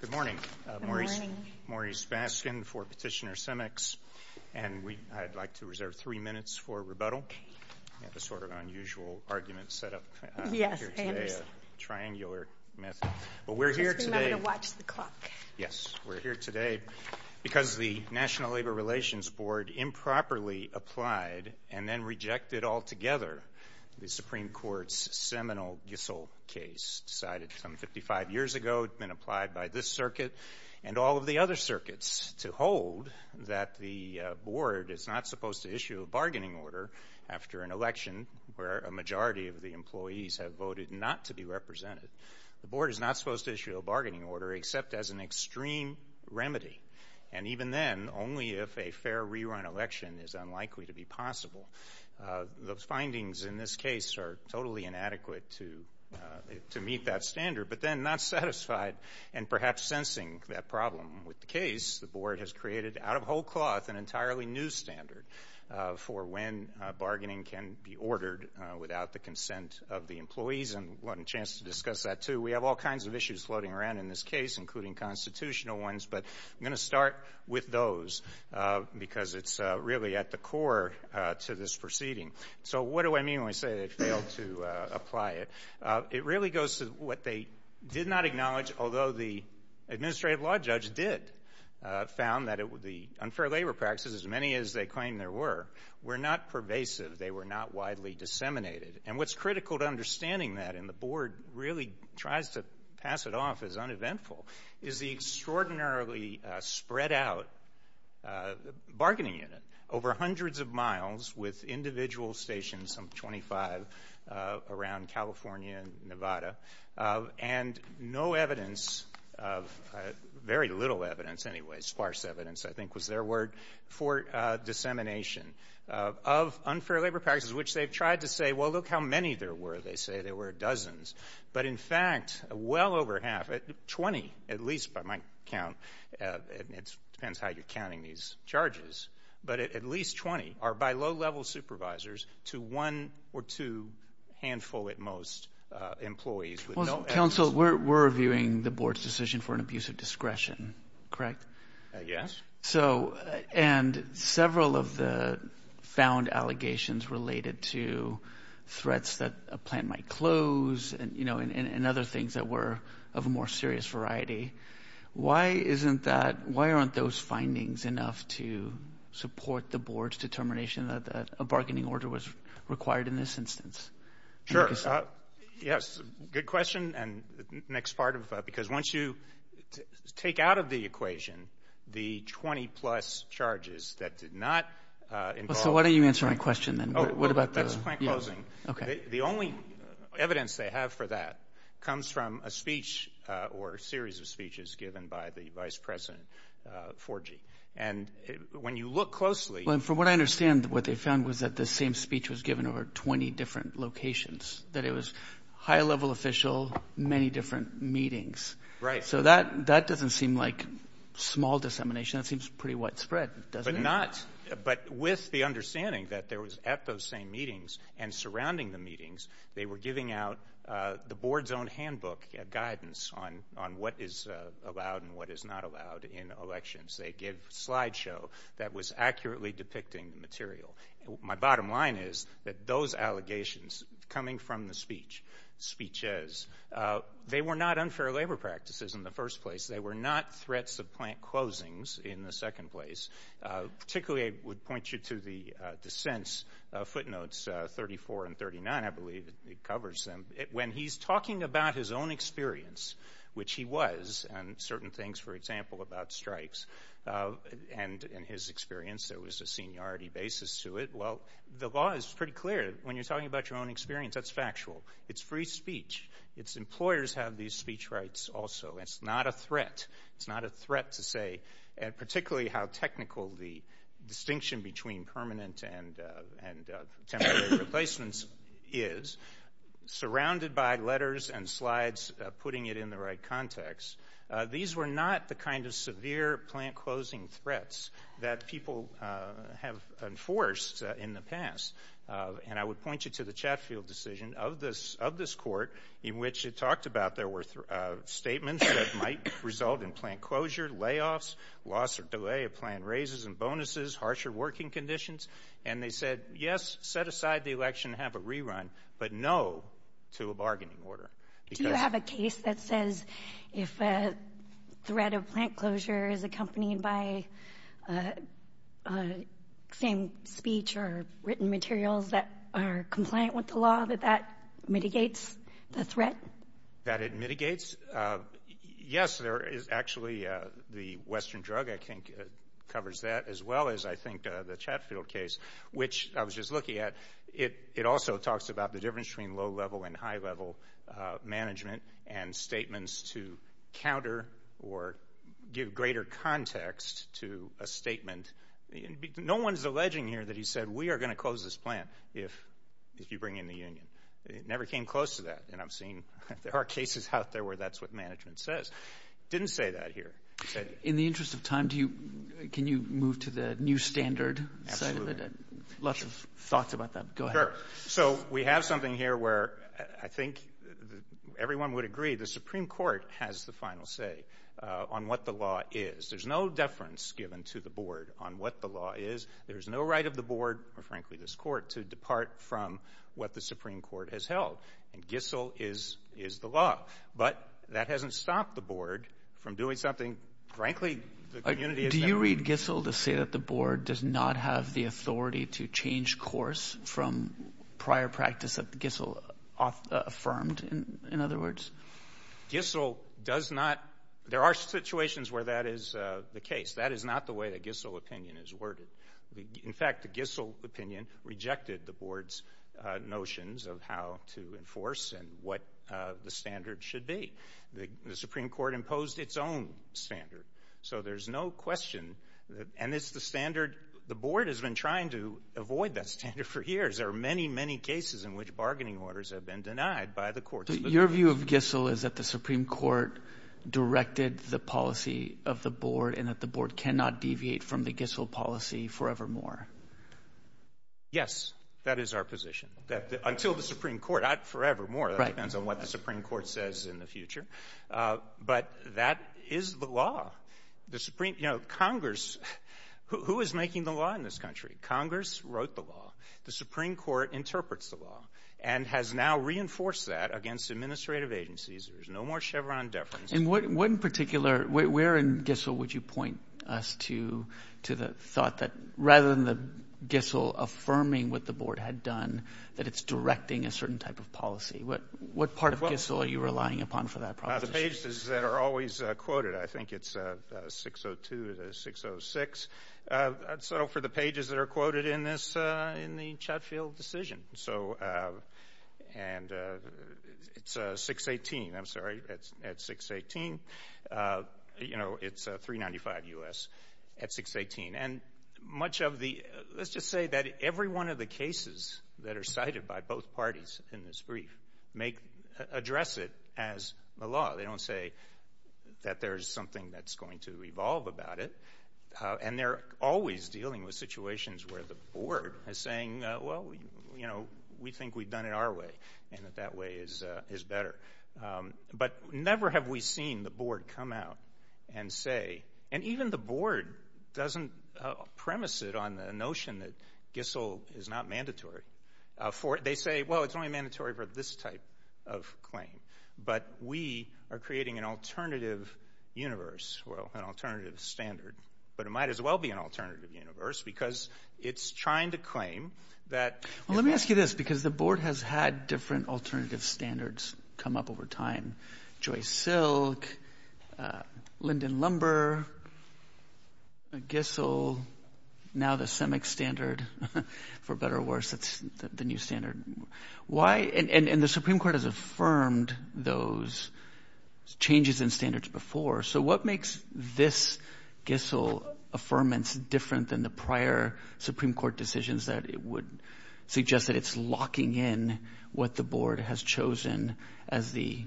Good morning. Maurice Baskin for Petitioner CEMEX and I'd like to reserve three minutes for rebuttal. That's sort of an unusual argument set up. Yes. Triangular method. But we're here today. Yes, we're here today because the National Labor Relations Board improperly applied and then rejected altogether the Supreme Court's seminal Gissel case cited from 55 years ago. It's been applied by this circuit and all of the other circuits to hold that the board is not supposed to issue a bargaining order after an election where a majority of the employees have voted not to be represented. The board is not supposed to issue a bargaining order except as an extreme remedy and even then only if a fair rerun election is unlikely to be possible. Those findings in this case are totally inadequate to to meet that standard but then not satisfied and perhaps sensing that problem with the case the board has created out of whole cloth an entirely new standard for when bargaining can be ordered without the consent of the employees and one chance to discuss that too. We have all kinds of issues floating around in this case including constitutional ones but I'm going to start with those because it's really at the core to this proceeding. So what do I mean when I say they failed to apply it? It really goes to what they did not acknowledge although the administrative law judge did found that it would be unfair labor practices as many as they claim there were were not pervasive they were not widely disseminated and what's critical to understanding that and the board really tries to pass it off as eventful is the extraordinarily spread out bargaining unit over hundreds of miles with individual stations some 25 around California and Nevada and no evidence of very little evidence anyway sparse evidence I think was their word for dissemination of unfair labor practices which they've tried to say well look how many there were they say there were dozens but in fact well over half at 20 at least by my count it depends how you're counting these charges but at least 20 are by low-level supervisors to one or two handful at most employees. Well counsel we're reviewing the board's decision for an abuse of discretion correct? Yes. So and several of the found allegations related to threats that a plan might close and you know and other things that were of a more serious variety why isn't that why aren't those findings enough to support the board's determination that a bargaining order was required in this instance? Sure yes good question and next part of that because once you take out of the equation the 20 plus charges that did not involve. So why don't you answer my question then? What about that? The only evidence they have for that comes from a speech or series of speeches given by the vice president Forgy and when you look closely. From what I understand what they found was that the same speech was given over 20 different locations that it was high-level official many different meetings. Right. So that that doesn't seem like small dissemination that seems pretty widespread doesn't it? Not but with the understanding that there was at those same meetings and surrounding the meetings they were giving out the board's own handbook guidance on on what is allowed and what is not allowed in elections. They give slideshow that was accurately depicting material. My bottom line is that those allegations coming from the speech speeches they were not unfair labor practices in the first place they were not threats of plant closings in the second place. Particularly I would point you to the dissents footnotes 34 and 39 I believe it covers them. When he's talking about his own experience which he was and certain things for example about strikes and in his experience there was a seniority basis to it. Well the law is pretty clear when you're talking about your own experience that's factual. It's free speech. Its employers have these speech rights also. It's not a threat. It's not a threat to say and particularly how technical the distinction between permanent and temporary replacements is surrounded by letters and slides putting it in the right context. These were not the kind of severe plant closing threats that people have enforced in the past and I would point you to the Chatfield decision of this of this court in which it talked about there were statements that might result in plant closure, layoffs, loss or a plan raises and bonuses, harsher working conditions and they said yes set aside the election have a rerun but no to a bargaining order. Do you have a case that says if a threat of plant closure is accompanied by same speech or written materials that are compliant with the law that that mitigates the threat? That it mitigates? Yes there is actually the Western drug I think it covers that as well as I think the Chatfield case which I was just looking at it it also talks about the difference between low-level and high-level management and statements to counter or give greater context to a statement. No one's alleging here that he said we are going to close this plant if if you bring in the Union. It never came close to that and I've seen there are cases out there where that's what management says. Didn't say that here. In the interest of time do you can you move to the new standard? Lots of thoughts about that. Go ahead. So we have something here where I think everyone would agree the Supreme Court has the final say on what the law is. There's no deference given to the board on what the law is. There's no right of the board or frankly this court to depart from what the Supreme Court has held and Gissell is is the law but that hasn't stopped the board from doing something frankly. Do you read Gissell to say that the board does not have the authority to change course from prior practice of Gissell affirmed in other words? Gissell does not there are situations where that is the case. That is not the way that Gissell opinion is worded. In fact the Gissell opinion rejected the board's notions of how to enforce and what the standard should be. The Supreme Court imposed its own standard so there's no question and it's the standard the board has been trying to avoid that standard for years. There are many many cases in which bargaining orders have been denied by the court. Your view of Gissell is that the Supreme Court directed the policy of the board and that the board cannot deviate from the Gissell policy forevermore? Yes that is our position that until the Supreme Court not forevermore that depends on what the Supreme Court says in the future but that is the law. The Supreme you know Congress who is making the law in this country? Congress wrote the law. The Supreme Court interprets the law and has now reinforced that against administrative agencies. There's no more Chevron deference. In one particular where in Gissell would you point us to the thought that rather than the Gissell affirming what the board had done that it's directing a certain type of policy but what part of Gissell are you relying upon for that process? The pages that are always quoted I think it's 602 to 606 so for the pages that are quoted in this in the Chatfield decision so and it's 618 I'm sorry it's at 618 you know it's 395 US at 618 and much of the let's just say that every one of the cases that are cited by both parties in this brief make address it as the law. They don't say that there's something that's going to revolve about it and they're always dealing with situations where the board is saying well you know we think we've done it our way and if that way is is better but never have we seen the board come out and say and even the board doesn't premise it on the notion that Gissell is not mandatory for it they say well it's only mandatory for this type of claim but we are creating an alternative universe well an alternative standard but it might as well be an alternative universe because it's trying to claim that. Let me ask you this because the board has had different alternative standards come up over time Joyce Silk, Lyndon Lumber, Gissell, now the SEMIC standard for better or worse the new standard. Why and the Supreme Court has affirmed those changes in standards before so what makes this Gissell affirmance different than the prior Supreme Court decisions that it would suggest that it's locking in what the board has chosen as the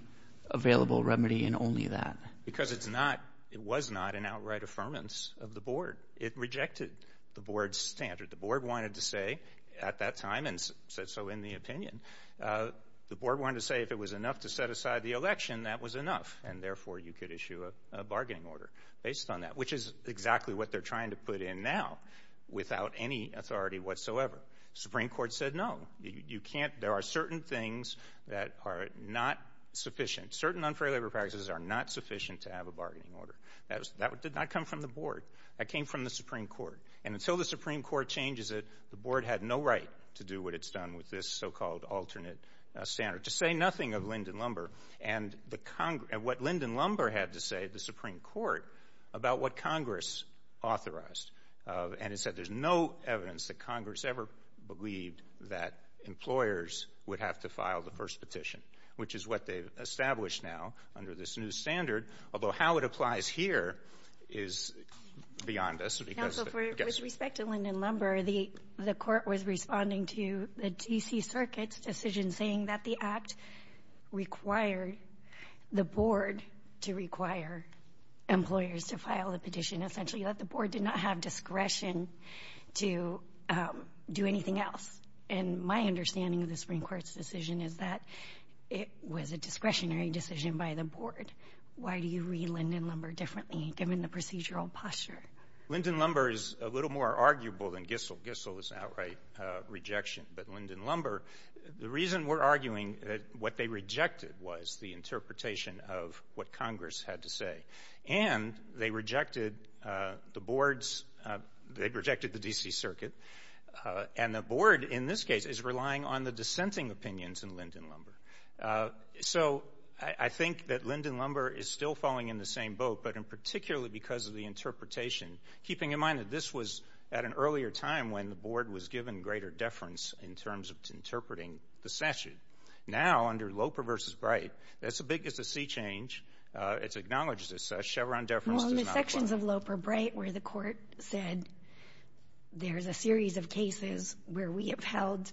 available remedy and only that? Because it's not it was not an outright affirmance of the board it rejected the board's standard the board wanted to say at that time and so in the opinion the board wanted to say if it was enough to set aside the election that was enough and therefore you could issue a bargaining order based on that which is exactly what they're trying to put in now without any authority whatsoever. Supreme Court said no you can't there are certain things that are not sufficient certain unfair labor practices are not sufficient to have a bargaining order. That did not come from the board that came from the Supreme Court and until the Supreme Court changes it the board had no right to do what it's done with this so-called alternate standard to say nothing of Lyndon Lumber and what Lyndon Lumber had to say the Supreme Court about what Congress authorized and it said there's no evidence that Congress ever believed that employers would have to file the first petition which is what they've established now under this new standard although how it applies here is beyond us. With respect to Lyndon Lumber the the court was responding to the DC Circuit's decision saying that the act required the board to require employers to file a petition essentially that the board did not have discretion to do anything else and my understanding of the Supreme Court's decision is that it was a discretionary decision by the board. Why do you read Lyndon Lumber differently given the procedural posture? Lyndon Lumber is a little more arguable than Gissel. Gissel is outright rejection but Lyndon Lumber the reason we're arguing that what they rejected was the interpretation of what Congress had to say and they rejected the board's they rejected the DC Circuit and the board in this case is relying on the dissenting opinions in Lyndon Lumber so I think that Lyndon Lumber is still falling in the same boat but in particularly because of the interpretation keeping in mind that this was at an earlier time when the board was given greater deference in terms of interpreting the statute. Now under Loper v. Bright that's the biggest a sea change it's acknowledged as such Chevron deference sections of Loper Bright where the court said there's a series of cases where we upheld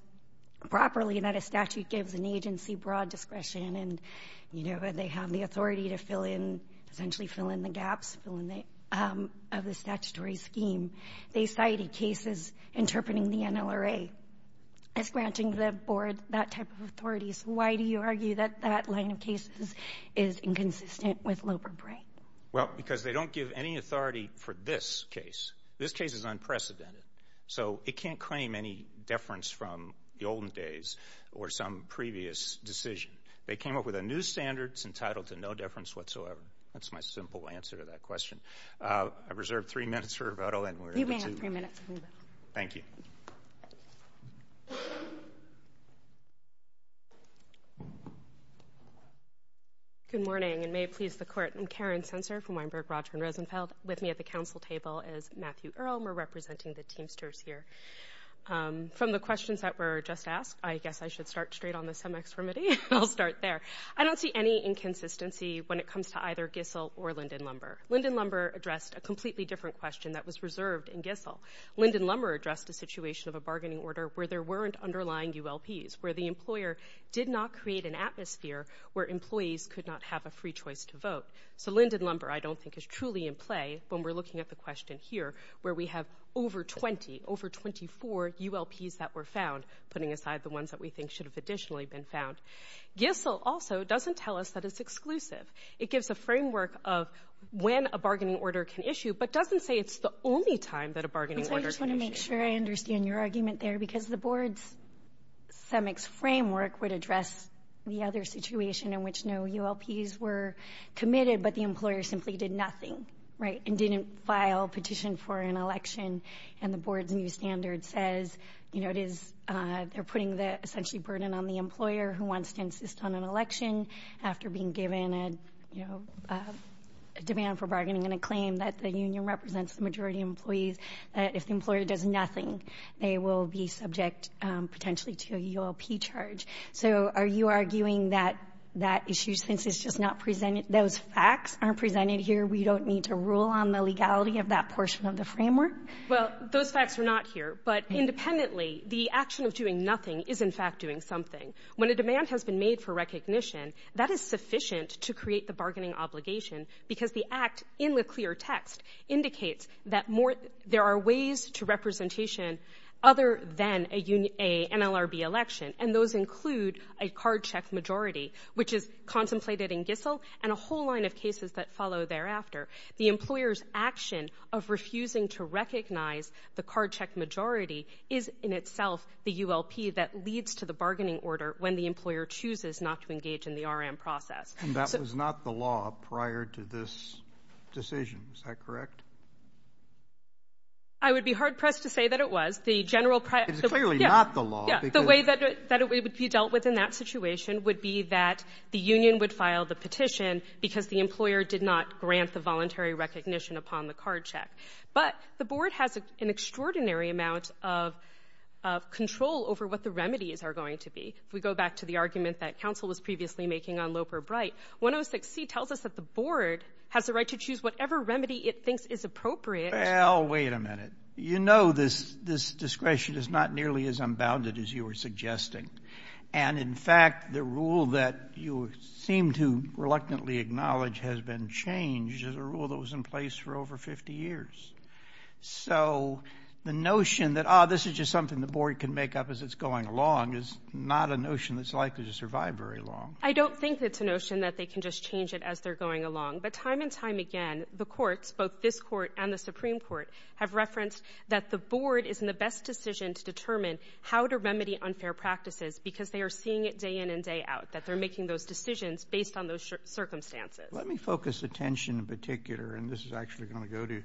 properly that a statute gives an agency broad discretion and you know they have the authority to fill in essentially fill in the gaps of the statutory scheme they cited cases interpreting the NLRA it's branching the board that type of authorities why do you argue that that line of cases is inconsistent with Loper Bright? Well because they don't give any authority for this case this case is unprecedented so it can't claim any deference from the olden days or some previous decision they came up with a new standards entitled to no deference whatsoever that's my simple answer to that question I've reserved three minutes for rebuttal. You may have three minutes. Thank you. Good morning and may it please the court I'm Karen Sensor from Weinberg, Rothschild & Rosenfeld with me at the council table is Matthew Earle we're representing the teamsters here. From the questions that were just asked I guess I should start straight on the semex remedy I'll start there I don't see any inconsistency when it comes to either Gissel or Linden Lumber. Linden Lumber addressed a completely different question that was reserved in Gissel. Linden Lumber addressed the situation of a bargaining order where there weren't underlying ULPs where the employer did not create an atmosphere where employees could not have a free choice to vote so Linden Lumber I don't think is truly in play when we're looking at the question here where we have over 20 over 24 ULPs that were found putting aside the ones that we think should have additionally been found. Gissel also doesn't tell us that it's exclusive it gives the framework of when a bargaining order can issue but doesn't say it's the only time that a bargaining order can issue. I just want to make sure I understand your argument there because the board's semex framework would address the other situation in which no ULPs were committed but the employer simply did nothing right and didn't file petition for an election and the board's new standard says you know it is they're putting the essentially burden on the employer who wants to insist on an election after being given a demand for bargaining and a claim that the union represents the majority of employees that if the employer does nothing they will be subject potentially to a ULP charge so are you arguing that that issue since it's just not presented those facts aren't presented here we don't need to rule on the legality of that portion of the framework? Well those facts are not here but independently the action of doing nothing is in fact doing something. When the demand has been made for recognition that is sufficient to create the bargaining obligation because the act in the clear text indicates that more there are ways to representation other than a NLRB election and those include a card check majority which is concentrated in Gitzel and a whole line of cases that follow thereafter. The employers action of refusing to recognize the card check majority is in itself the ULP that leads to the bargaining order when the employer chooses not to engage in the RM process. That was not the law prior to this decision is that correct? I would be hard pressed to say that it was the general... It's clearly not the law. The way that it would be dealt with in that situation would be that the union would file the petition because the employer did not grant the voluntary recognition upon the card check but the board has an extraordinary amount of control over what the remedies are going to be. We go back to the argument that counsel was previously making on Loper Bright. 106C tells us that the board has the right to choose whatever remedy it thinks is appropriate. Well wait a minute. You know this discretion is not nearly as unbounded as you were suggesting and in fact the rule that you seem to reluctantly acknowledge has been changed as a rule that was in place for over 50 years. So the notion that ah this is just something the board can make up as it's going along is not a notion that's likely to survive very long. I don't think it's a notion that they can just change it as they're going along but time and time again the courts both this court and the Supreme Court have referenced that the board is in the best decision to determine how to remedy unfair practices because they are seeing it day in and day out that they're making those decisions based on those circumstances. Let me focus attention in particular and this is actually going to go to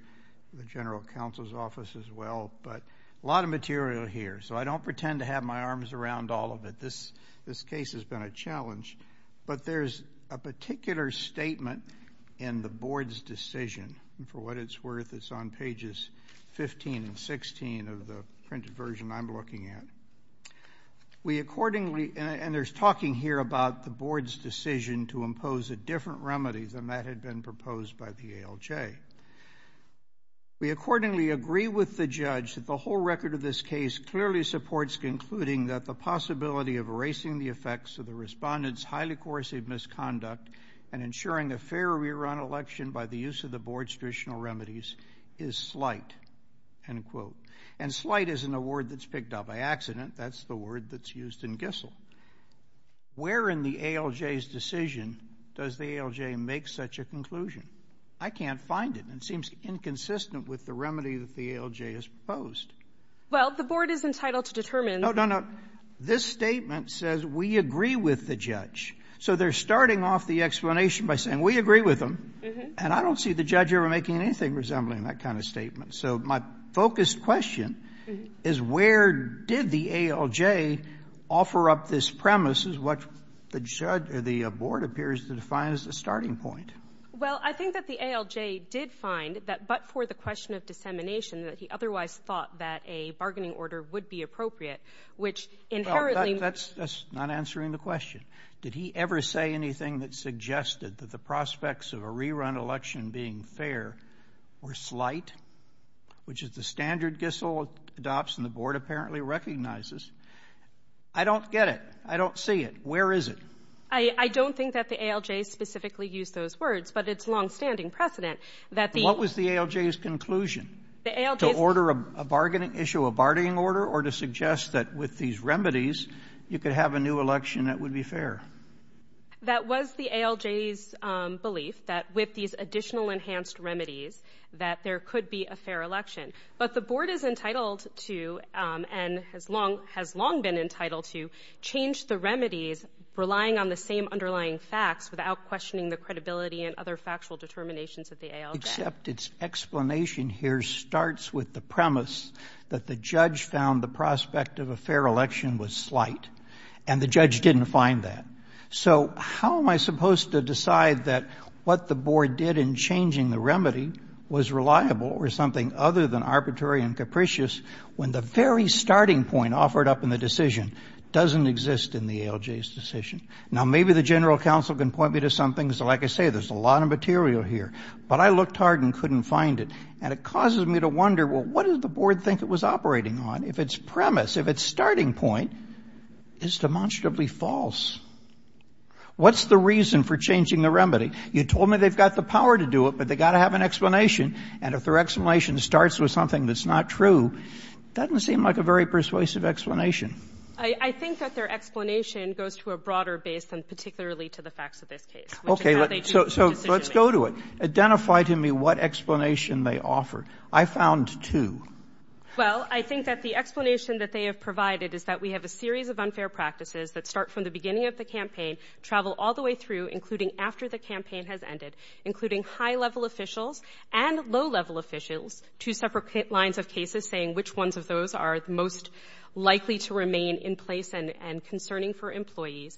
the general counsel's office as well but a lot of material here so I don't pretend to have my arms around all of it. This this case has been a challenge but there's a particular statement in the board's decision and for what it's worth it's on pages 15 and 16 of the printed version I'm looking at. We accordingly and there's talking here about the board's decision to impose a different remedy than that had been imposed by the ALJ. We accordingly agree with the judge that the whole record of this case clearly supports concluding that the possibility of erasing the effects of the respondents highly coercive misconduct and ensuring the fair rerun election by the use of the board's traditional remedies is slight end quote and slight is an award that's picked up by accident that's the word that's used in Gissel. Where in the ALJ's decision does the ALJ make such a decision? I can't find it. It seems inconsistent with the remedy that the ALJ has proposed. Well the board is entitled to determine. No no no this statement says we agree with the judge so they're starting off the explanation by saying we agree with them and I don't see the judge ever making anything resembling that kind of statement so my focused question is where did the ALJ offer up this premise is what the judge or the board appears to define as the starting point? Well I think that the ALJ did find that but for the question of dissemination that he otherwise thought that a bargaining order would be appropriate which inherently... That's not answering the question. Did he ever say anything that suggested that the prospects of a rerun election being fair or slight which is the standard Gissel adopts and the board apparently recognizes. I don't get it. I don't see it. Where is it? I don't think that the ALJ specifically used those words but it's long-standing precedent that... What was the ALJ's conclusion? To order a bargaining issue, a bargaining order or to suggest that with these remedies you could have a new election that would be fair? That was the ALJ's belief that with these additional enhanced remedies that there could be a fair election but the board is entitled to and has long been entitled to change the remedies relying on the same underlying facts without questioning the credibility and other factual determinations of the ALJ. Except its explanation here starts with the premise that the judge found the prospect of a fair election was slight and the judge didn't find that. So how am I supposed to decide that what the board did in changing the remedy was reliable or something other than arbitrary and capricious when the very starting point offered up in the decision doesn't exist in the ALJ's decision? Now maybe the Federal Council can point me to something so like I say there's a lot of material here but I looked hard and couldn't find it and it causes me to wonder well what does the board think it was operating on if its premise, if its starting point is demonstrably false? What's the reason for changing the remedy? You told me they've got the power to do it but they got to have an explanation and if their explanation starts with something that's not true, it doesn't seem like a very persuasive explanation. I think that their explanation goes to a broader base and particularly to the facts of this case. Okay so let's go to it. Identify to me what explanation they offer. I found two. Well I think that the explanation that they have provided is that we have a series of unfair practices that start from the beginning of the campaign, travel all the way through including after the campaign has ended, including high-level officials and low-level officials, two separate lines of cases saying which ones of those are most likely to remain in place and concerning for employees.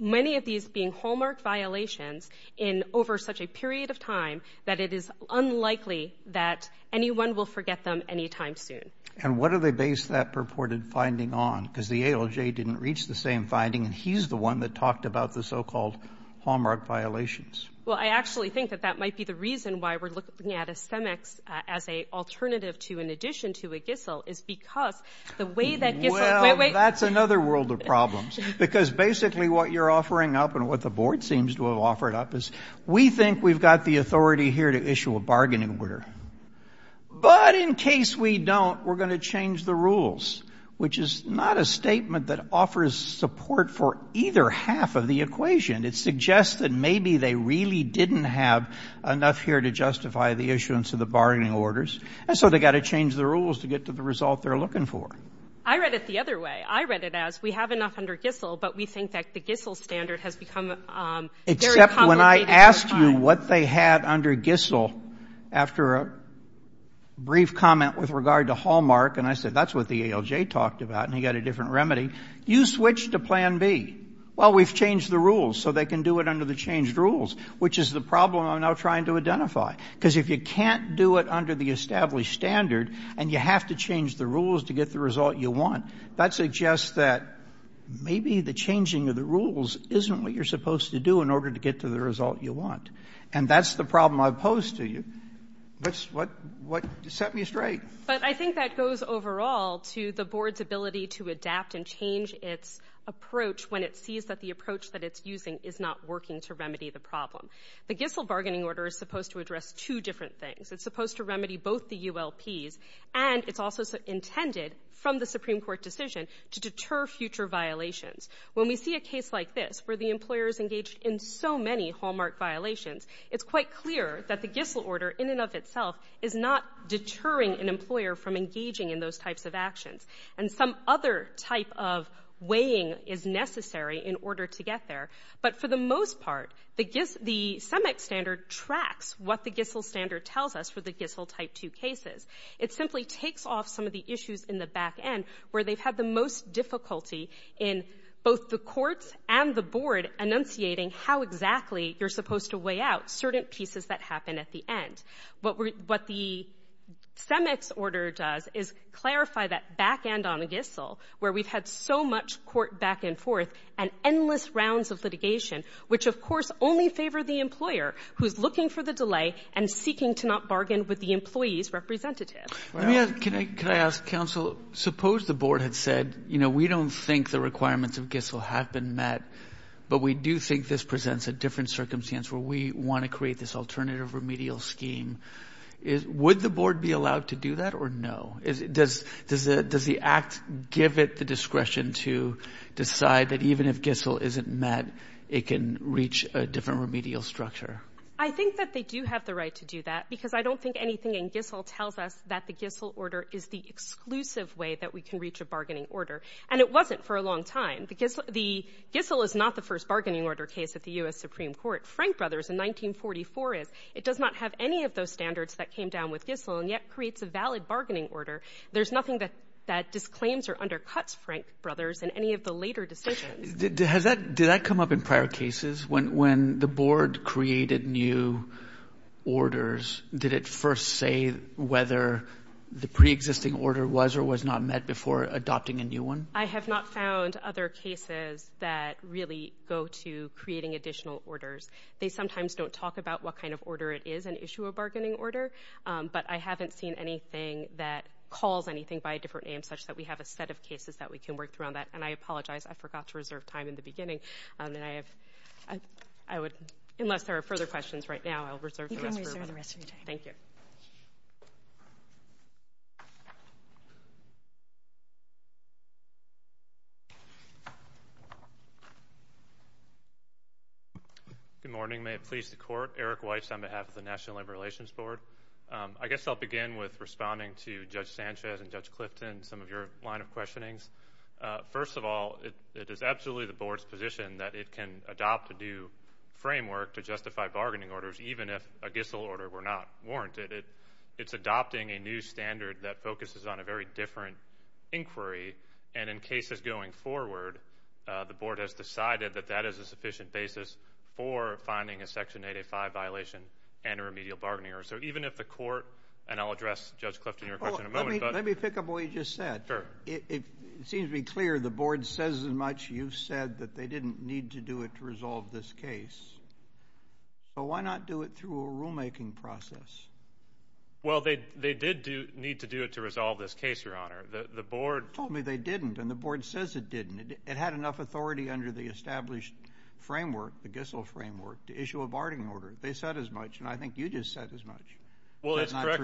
Many of these being hallmark violations in over such a period of time that it is unlikely that anyone will forget them anytime soon. And what are they based that purported finding on because the ALJ didn't reach the same finding and he's the one that talked about the so-called hallmark violations. Well I actually think that that might be the reason why we're looking at a SEMEX as a alternative to in addition to a GISL is because the way that... That's another world of problems because basically what you're offering up and what the board seems to have offered up is we think we've got the authority here to issue a bargaining order but in case we don't we're going to change the rules which is not a statement that offers support for either half of the equation. It suggests that maybe they really didn't have enough here to justify the issuance of the bargaining orders and so they got to change the rules to get to the result they're looking for. I read it the other way. I read it as we have enough under GISL but we think that the GISL standard has become... Except when I asked you what they had under GISL after a brief comment with regard to hallmark and I said that's what the ALJ talked about and he got a different remedy. You switched to plan B. Well we've changed the rules so they can do it under the changed rules which is the problem I'm now trying to identify because if you can't do it under the established standard and you have to change the rules to get the result you want, that suggests that maybe the changing of the rules isn't what you're supposed to do in order to get to the result you want and that's the problem I pose to you. That's what set me straight. But I think that goes overall to the board's ability to adapt and change its approach when it sees that the approach that it's using is not working to remedy the problem. The GISL bargaining order is supposed to address two different things. It's supposed to remedy both the UL P's and it's also intended from the Supreme Court decision to deter future violations. When we see a case like this where the employer is engaged in so many hallmark violations, it's quite clear that the GISL order in and of itself is not deterring an employer from engaging in those types of actions and some other type of weighing is necessary in order to get there but for the most part the GISL, the semi-standard tracks what the GISL standard tells us for the GISL type 2 cases. It simply takes off some of the issues in the back end where they've had the most difficulty in both the courts and the board enunciating how exactly you're supposed to weigh out certain pieces that happen at the end. What the CEMEX order does is clarify that back end on a GISL where we've had so much court back and forth and endless rounds of litigation which of course only favored the employer who's looking for the delay and seeking to not bargain with the employee's representative. Can I ask counsel, suppose the board had said you know we don't think the requirements of GISL have been met but we do think this presents a different circumstance where we want to create this alternative remedial scheme. Would the board be allowed to do that or no? Does the act give it the discretion to decide that even if GISL isn't met it can reach a different remedial structure? I think that they do have the right to do that because I don't think anything in GISL tells us that the GISL order is the exclusive way that we can reach a bargaining order and it wasn't for a long time. The GISL is not the first bargaining order case at the US Supreme Court. Frank Brothers in 1944 is. It does not have any of those standards that came down with GISL and yet creates a valid bargaining order. There's nothing that that disclaims or undercuts Frank Brothers in any of the later decisions. Did that come up in prior cases when the board created new orders? Did it first say whether the pre-existing order was or was not met before adopting a new one? I have not found other cases that really go to creating additional orders. They sometimes don't talk about what kind of order it is and issue a bargaining order but I haven't seen anything that calls anything by a different name such that we have a set of cases that we can work through on that and I apologize I forgot to reserve time in the beginning and then I have I would unless there are further questions right now I'll reserve the rest of my time. Thank you. Good morning may it please the court. Eric Weiss on behalf of the National Labor Relations Board. I guess I'll begin with responding to Judge Sanchez and Judge Clifton some of your line of questionings. First of all it is absolutely the board's position that it can adopt a new framework to justify bargaining orders even if a GISL order were not warranted. It's adopting a new standard that focuses on a very different inquiry and in cases going forward the board has decided that that is a sufficient basis for finding a Section 885 violation and a remedial bargaining order. So even if the court and I'll Let me pick up what you just said. It seems to be clear the board says as much you've said that they didn't need to do it to resolve this case but why not do it through a rulemaking process? Well they did need to do it to resolve this case your honor. The board told me they didn't and the board says it didn't. It had enough authority under the established framework the GISL framework to issue a bargaining order. They said as much and I think you just said as much. Well it's correct.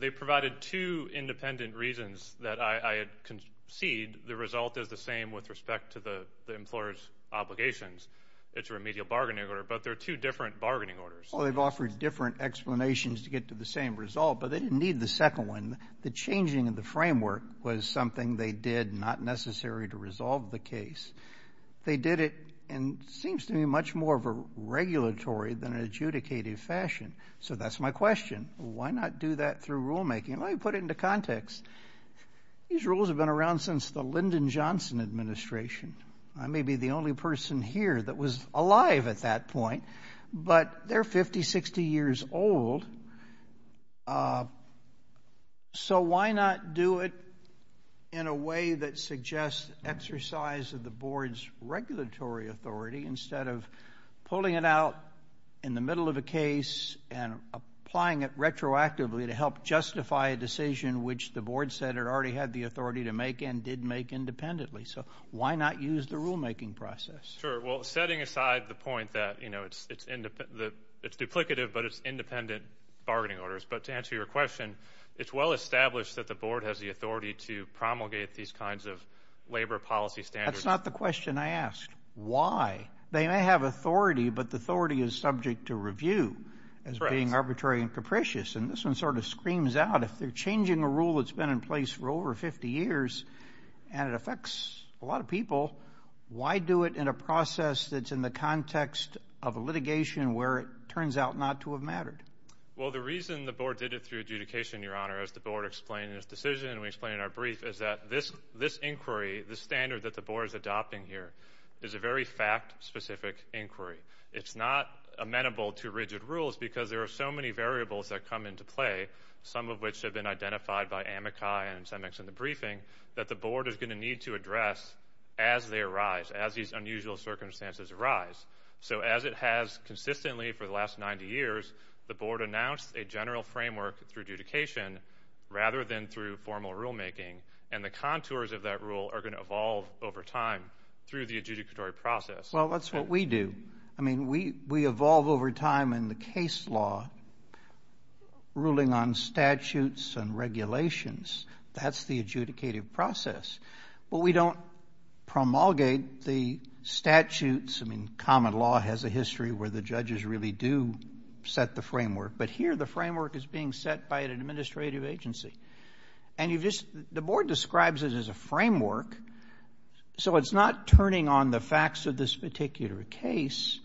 They provided two independent reasons that I concede the result is the same with respect to the the employer's obligations. It's a remedial bargaining order but they're two different bargaining orders. Well they've offered different explanations to get to the same result but they didn't need the second one. The changing of the framework was something they did not necessary to resolve the case. They did it and seems to be much more of a Why not do that through rulemaking? Let me put it into context. These rules have been around since the Lyndon Johnson administration. I may be the only person here that was alive at that point but they're 50, 60 years old. So why not do it in a way that suggests exercise of the board's regulatory authority instead of pulling it out in the middle of a case and applying it retroactively to help justify a decision which the board said it already had the authority to make and did make independently. So why not use the rulemaking process? Sure well setting aside the point that you know it's it's in the it's duplicative but it's independent bargaining orders but to answer your question it's well established that the board has the authority to promulgate these kinds of labor policy standards. That's not the question I asked. Why? They may have authority but the authority is subject to review as being arbitrary and capricious and this one sort of screams out if they're changing a rule that's been in place for over 50 years and it affects a lot of people why do it in a process that's in the context of litigation where it turns out not to have mattered? Well the reason the board did it through adjudication your honor as the board explained in its decision and we explain in our brief is that this inquiry the standard that the board is adopting here is a very fact-specific inquiry. It's not amenable to rigid rules because there are so many variables that come into play some of which have been identified by Amakai and Semex in the briefing that the board is going to need to address as they arise as these unusual circumstances arise. So as it has consistently for the last 90 years the board announced a general framework through adjudication rather than through formal rulemaking and the contours of that rule are going to evolve over time through the adjudicatory process. Well that's what we do I mean we we evolve over time in the case law ruling on statutes and regulations that's the adjudicative process but we don't promulgate the statutes I mean common law has a history where the judges really do set the framework but here the framework is being set by an administrative agency and you just the board describes it as a framework so it's not turning on the facts of this particular case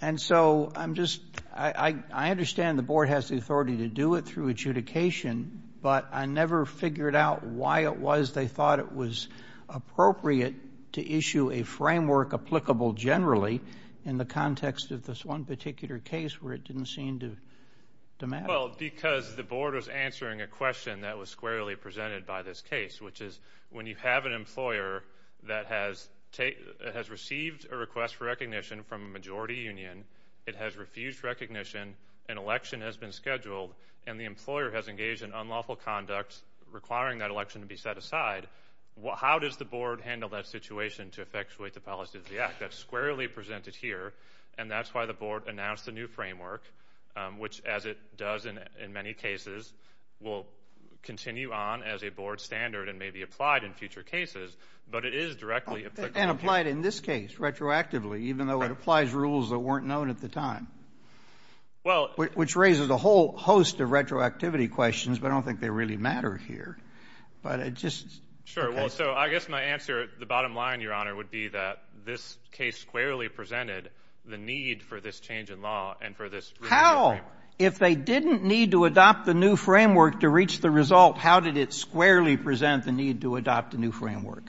and so I'm just I understand the board has the authority to do it through adjudication but I never figured out why it was they thought it was appropriate to issue a framework applicable generally in the context of this one particular case where it didn't seem to matter. Well because the board was answering a question that was squarely presented by this case which is when you have an employer that has received a request for recognition from a majority union it has refused recognition an election has been scheduled and the employer has engaged in unlawful conduct requiring that election to be set aside well how does the board handle that situation to effectuate the policy of the assets squarely presented here and that's why the board announced a new framework which as it does in many cases will continue on as a board standard and may be applied in future cases but it is directly and applied in this case retroactively even though it applies rules that weren't known at the time well which raises a whole host of retroactivity questions but I don't think they really matter here but it's sure well so I guess my answer the bottom line your honor would be that this case squarely presented the need for this change in law and for this how if they didn't need to adopt the new framework to reach the result how did it squarely present the need to adopt a new framework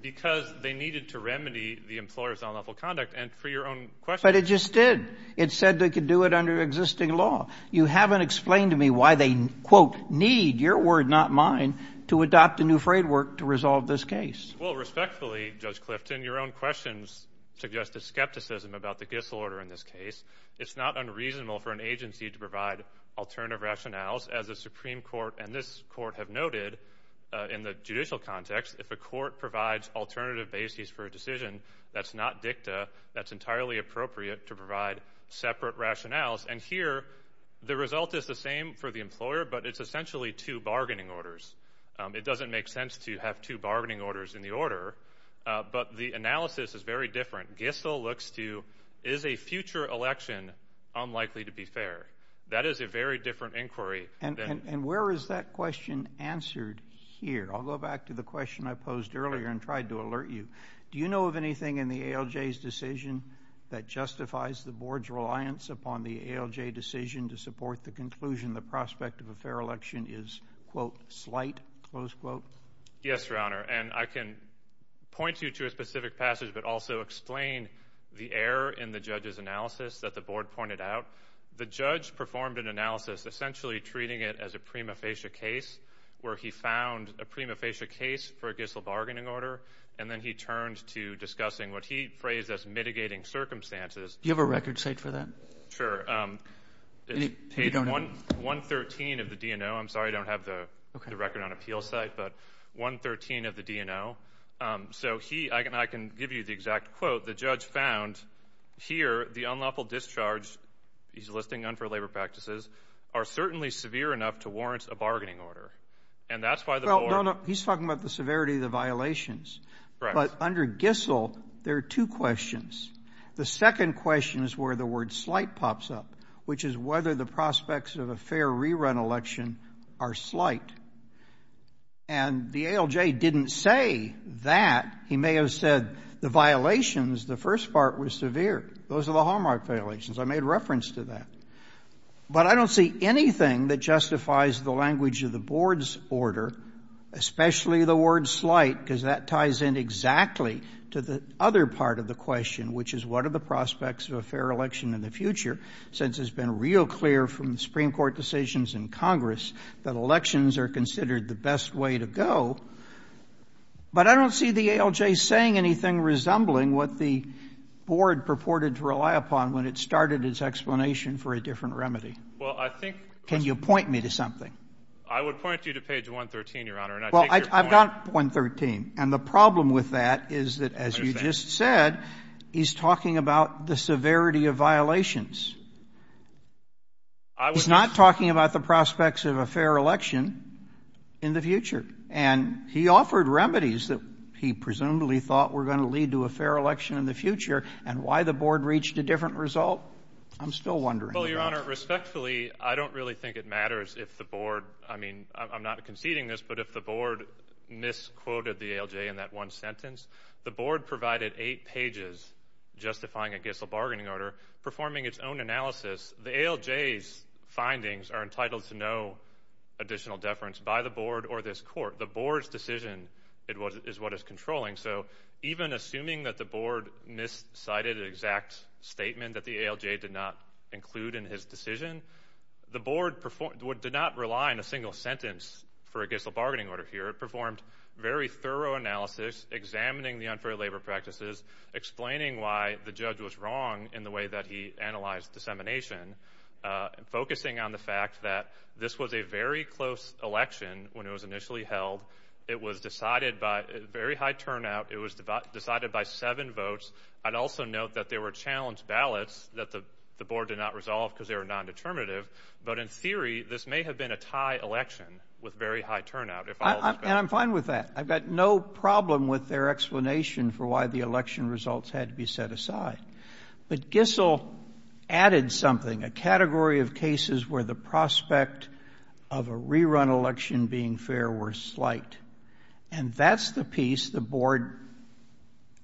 because they needed to remedy the employer's unlawful conduct and for your own question it just did it said they could do it under existing law you haven't explained to me why they quote need your word not mine to adopt a new framework to resolve this case well respectfully judge Clifton your own questions suggest a skepticism about the gifts order in this case it's not unreasonable for an agency to provide alternative rationales as the Supreme Court and this court have noted in the judicial context if the court provides alternative basis for a decision that's not dicta that's entirely appropriate to provide separate rationales and here the result is the same for the employer but it's essentially two bargaining orders it doesn't make sense to have two bargaining orders in the order but the analysis is very different Gissel looks to is a future election unlikely to be fair that is a very different inquiry and and where is that question answered here I'll go back to the question I posed earlier and tried to alert you do you know of anything in the ALJ's decision that justifies the board's reliance upon the ALJ decision to support the conclusion the prospect of a fair election is quote slight close quote yes your honor and I can point you to a specific passage but also explain the error in the judge's analysis that the board pointed out the judge performed an analysis essentially treating it as a prima facie case where he found a prima facie case for a Gissel bargaining order and then he turns to discussing what he phrased as Do you have a record sake for that? Sure, page 113 of the DNO I'm sorry I don't have the record on appeal site but 113 of the DNO so he I can I can give you the exact quote the judge found here the unlawful discharge he's listing unfair labor practices are certainly severe enough to warrant a bargaining order and that's why the board he's talking about the severity of the violations but under Gissel there are two questions the second question is where the word slight pops up which is whether the prospects of a fair rerun election are slight and the ALJ didn't say that he may have said the violations the first part was severe those are the hallmark violations I made reference to that but I don't see anything that justifies the language of the board's order especially the word slight because that ties in exactly to the other part of the question which is what are the prospects of a fair election in the future since it's been real clear from Supreme Court decisions in Congress that elections are considered the best way to go but I don't see the ALJ saying anything resembling what the board purported to rely upon when it started its explanation for a different remedy well I think can you point me to something I I've got 113 and the problem with that is that as you just said he's talking about the severity of violations he's not talking about the prospects of a fair election in the future and he offered remedies that he presumably thought were going to lead to a fair election in the future and why the board reached a different result I'm still wondering respectfully I don't really think it matters if the board I mean I'm not conceding this but if the board misquoted the ALJ in that one sentence the board provided eight pages justifying a Gissel bargaining order performing its own analysis the ALJ's findings are entitled to no additional deference by the board or this court the board's decision it was is what is controlling so even assuming that the board miscited an exact statement that the ALJ did not include in his decision the board did not rely on a single sentence for a Gissel performed very thorough analysis examining the unfair labor practices explaining why the judge was wrong in the way that he analyzed dissemination focusing on the fact that this was a very close election when it was initially held it was decided by very high turnout it was decided by seven votes I'd also note that they were challenged ballots that the the board did not resolve because they were non-determinative but in theory this may have been a tie election with very high turnout and I'm fine with that I've got no problem with their explanation for why the election results had to be set aside but Gissel added something a category of cases where the prospect of a rerun election being fair were slight and that's the piece the board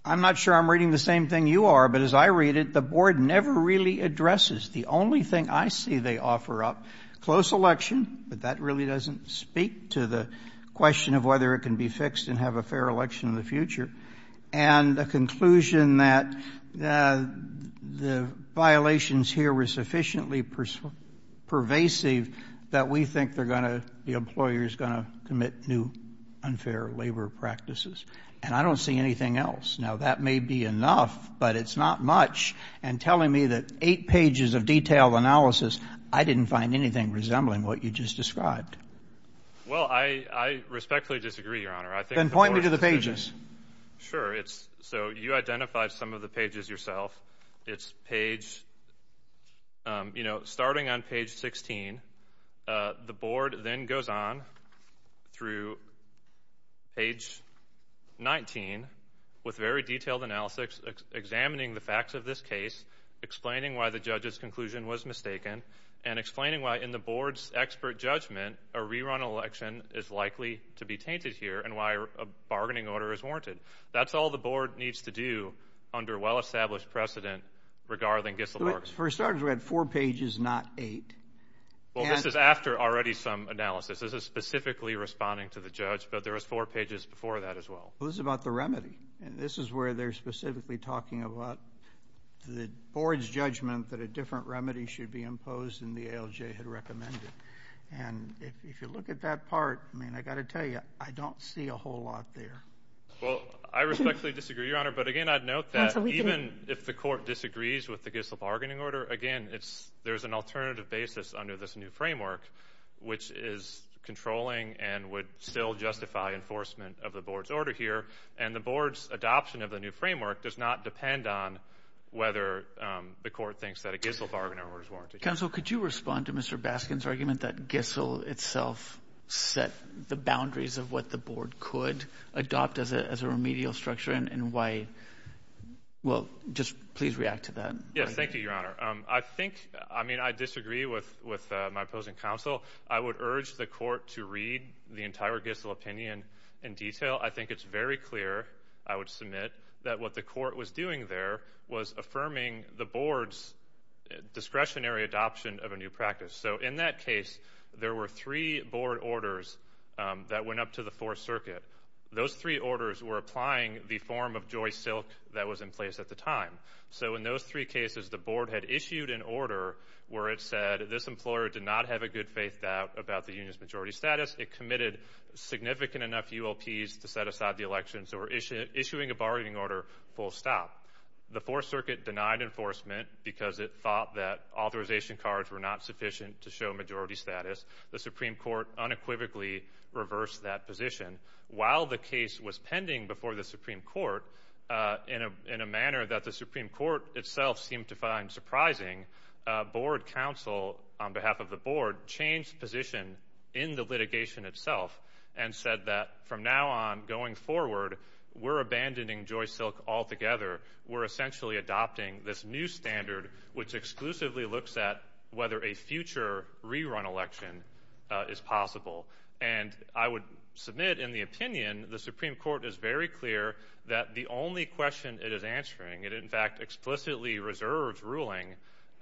I'm not sure I'm reading the same thing you are but as I read it the board never really addresses the only thing I see they offer up close election but that really doesn't speak to the question of whether it can be fixed and have a fair election in the future and the conclusion that the violations here were sufficiently pervasive that we think they're going to the employers going to commit new unfair labor practices and I don't see anything else now that may be enough but it's not much and telling me that eight pages of detailed analysis I didn't find anything resembling what you just described well I I respectfully disagree your honor I can point me to the pages sure it's so you identify some of the pages yourself it's page you know starting on page 16 the board then goes on through page 19 with very detailed analysis examining the facts of this case explaining why the judge's conclusion was mistaken and explaining why in the board's expert judgment a rerun election is likely to be tainted here and why a bargaining order is warranted that's all the board needs to do under well-established precedent regarding gifts for starters we had four pages not eight well this is after already some analysis this is specifically responding to the judge but there's four pages before that as well who's about the remedy and this is where they're specifically talking about the board's judgment but a different remedy should be imposed in the ALJ had recommended and if you look at that part I mean I got to tell you I don't see a whole lot there well I respectfully disagree your honor but again I'd note that even if the court disagrees with the gifts of bargaining order again it's there's an alternative basis under this new framework which is controlling and would still justify enforcement of the board's order here and the board's adoption of the new framework does not depend on whether the court thinks that it gets a bargaining order so could you respond to mr. Baskin's argument that gissel itself set the boundaries of what the board could adopt as a remedial structure and why well just please react to that yeah thank you your honor I think I mean I disagree with with my opposing counsel I would urge the court to read the entire gissel opinion in detail I think it's very clear I would submit that what the court was doing there was affirming the board's discretionary adoption of a new practice so in that case there were three board orders that went up to the fourth circuit those three orders were applying the form of joy silk that was in place at the time so in those three cases the board had issued an order where it said this employer did not have a good faith that about the union's majority status it committed significant enough ULP's to set aside the elections that were issued issuing a bargaining order full stop the fourth circuit denied enforcement because it thought that authorization cards were not sufficient to show majority status the Supreme Court unequivocally reversed that position while the case was pending before the Supreme Court in a in a manner that the Supreme Court itself seemed to find surprising board counsel on behalf of the board changed position in the litigation itself and said that from now on going forward we're abandoning joy silk altogether we're essentially adopting this new standard which exclusively looks at whether a future rerun election is possible and I would submit in the opinion the Supreme Court is very clear that the only question it is answering it in fact explicitly reserved ruling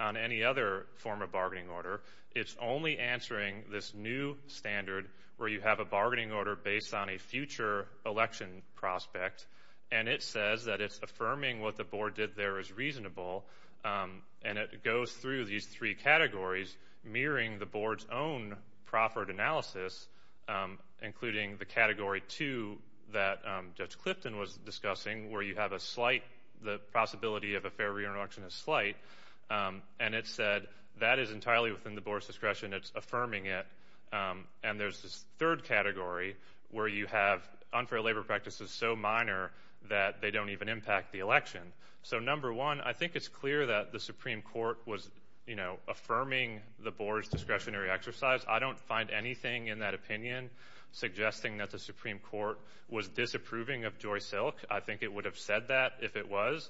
on any other form of bargaining order it's only answering this new standard where you have a bargaining order based on a future election prospect and it says that it's affirming what the board did there is reasonable and it goes through these three categories mirroring the board's own proffered analysis including the category to that judge Clifton was discussing where you have a slight the possibility of a fair reintroduction is slight and it said that is entirely within the board's discretion it's affirming it and there's this third category where you have unfair labor practices so minor that they don't even impact the election so number one I think it's clear that the Supreme Court was you know affirming the board's discretionary exercise I don't find anything in that opinion suggesting that the Supreme Court was disapproving of joy silk I think it would have said that if it was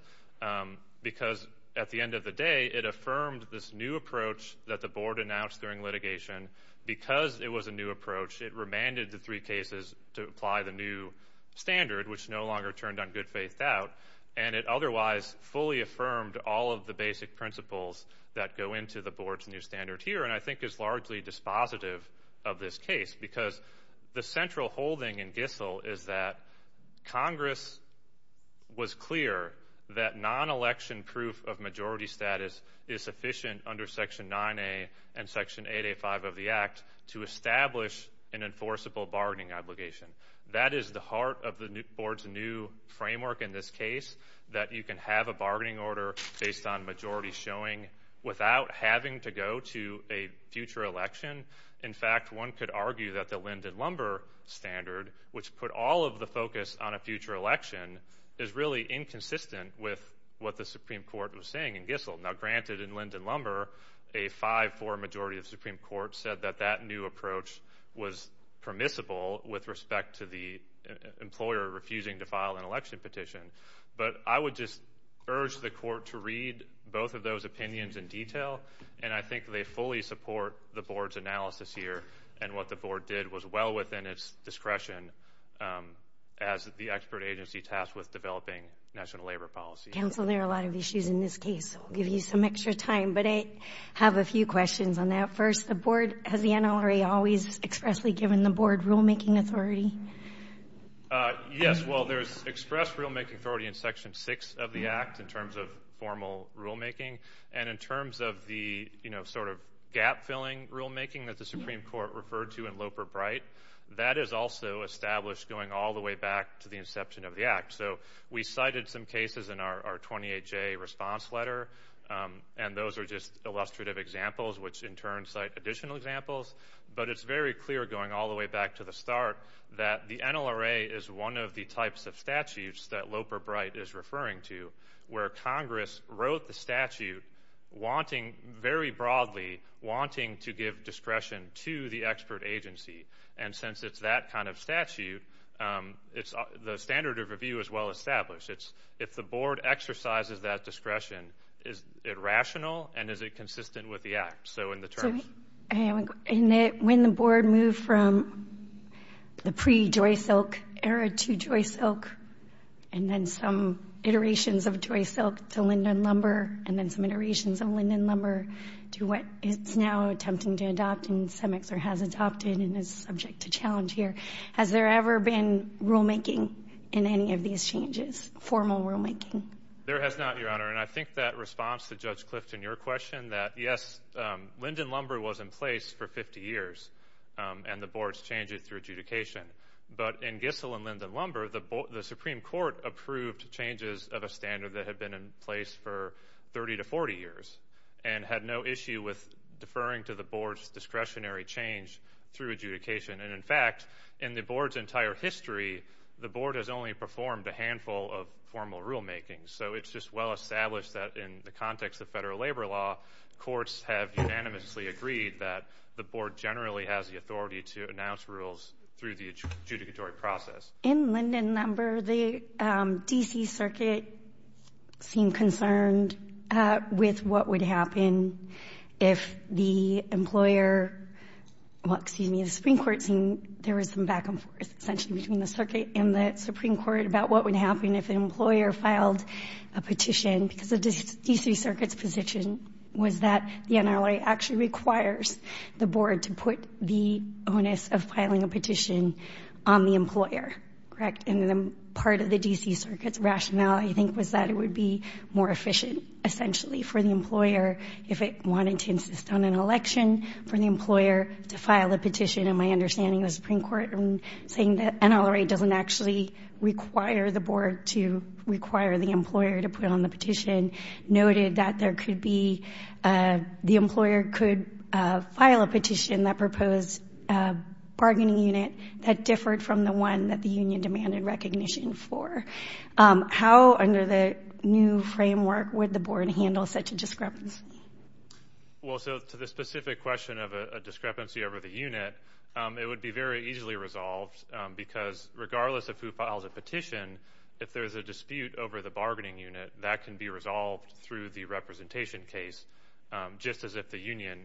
because at the end of the day it affirmed this new approach that the board announced during litigation because it was a new approach it demanded the three cases to apply the new standard which no longer turned on good faith out and it otherwise fully affirmed all of the basic principles that go into the board's new standard here and I think is largely dispositive of this case because the central holding in Gissel is that Congress was clear that non-election proof of majority status is sufficient under section 9a and section 885 of the act to establish an enforceable bargaining obligation that is the heart of the new board's new framework in this case that you can have a bargaining order based on majority showing without having to go to a future election in fact one could argue that the Linden lumber standard which put all of the focus on a future election is really inconsistent with what the majority of Supreme Court said that that new approach was permissible with respect to the employer refusing to file an election petition but I would just urge the court to read both of those opinions in detail and I think they fully support the board's analysis here and what the board did was well within its discretion as the expert agency tasked with developing national labor policy there are a lot of issues in this case give you some extra time but I have a few questions on that first the board has the NLRA always expressly given the board rulemaking authority yes well there's expressed rulemaking authority in section 6 of the act in terms of formal rulemaking and in terms of the you know sort of gap-filling rulemaking that the Supreme Court referred to in Loper-Bright that is also established going all the way back to the inception of the act so we cited some cases in our 28-J response letter and those are just illustrative examples which in turn cite additional examples but it's very clear going all the way back to the start that the NLRA is one of the types of statutes that Loper-Bright is referring to where Congress wrote the statute wanting very broadly wanting to give discretion to the expert agency and since it's that kind of statute it's the standard of review as well established it's if the board exercises that discretion is it rational and is it consistent with the act so in the terms and when the board moved from the pre Joy Silk era to Joy Silk and then some iterations of Joy Silk to Linden Lumber and then some iterations of Linden Lumber to what it's now attempting to adopt and some experts have adopted and is subject to challenge here has there ever been rulemaking in any of these changes formal rulemaking there has not your honor and I think that response to Judge Clifton your question that yes Linden Lumber was in place for 50 years and the board's changes through adjudication but in Gissell and Linden Lumber the Supreme Court approved changes of a standard that had been in place for 30 to 40 years and had no issue with deferring to the board's discretionary change through adjudication and in fact in the board's entire history the board has only performed a handful of formal rulemaking so it's just well established that in the context of federal labor law courts have unanimously agreed that the board generally has the authority to announce rules through the adjudicatory process in Linden Lumber the DC Circuit seemed concerned with what would happen if the employer well excuse me the Supreme Court and there was some back-and-forth essentially between the circuit and the Supreme Court about what would happen if an employer filed a petition because of the DC Circuit's position was that the NLA actually requires the board to put the bonus of filing a petition on the employer correct and then part of the DC Circuit's rationale I think was that it would be more efficient essentially for the employer if it wanted to insist on an election for an employer to file a petition and my understanding of the Supreme Court and saying that NLRA doesn't actually require the board to require the employer to put on the petition noted that there could be the employer could file a petition that proposed a bargaining unit that differed from the one that the union demanded recognition for how under the new framework would the board handle such a discrepancy well so to the specific question of a discrepancy over the unit it would be very easily resolved because regardless of who filed a petition if there's a dispute over the bargaining unit that can be resolved through the representation case just as if the union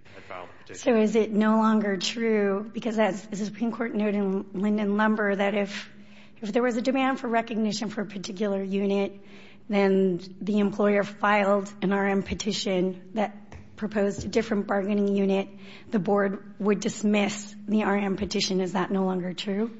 so is it no longer true because that's the Supreme Court noted in Linden Lumber that if there was a demand for recognition for a particular unit then the employer filed an RM petition that proposed a different bargaining unit the board would dismiss the RM petition is that no longer true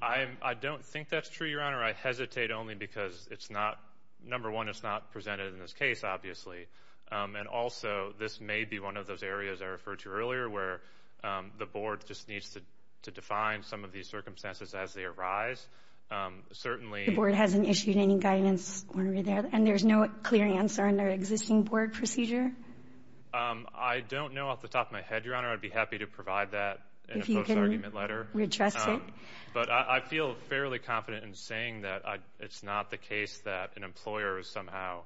I don't think that's true your honor I hesitate only because it's not number one it's not presented in this case obviously and also this may be one of those areas I referred to where the board just needs to define some of these circumstances as they arise certainly the board hasn't issued any guidance and there's no clear answer in their existing board procedure I don't know off the top of my head your honor I'd be happy to provide that but I feel fairly confident in saying that it's not the case that an employer is somehow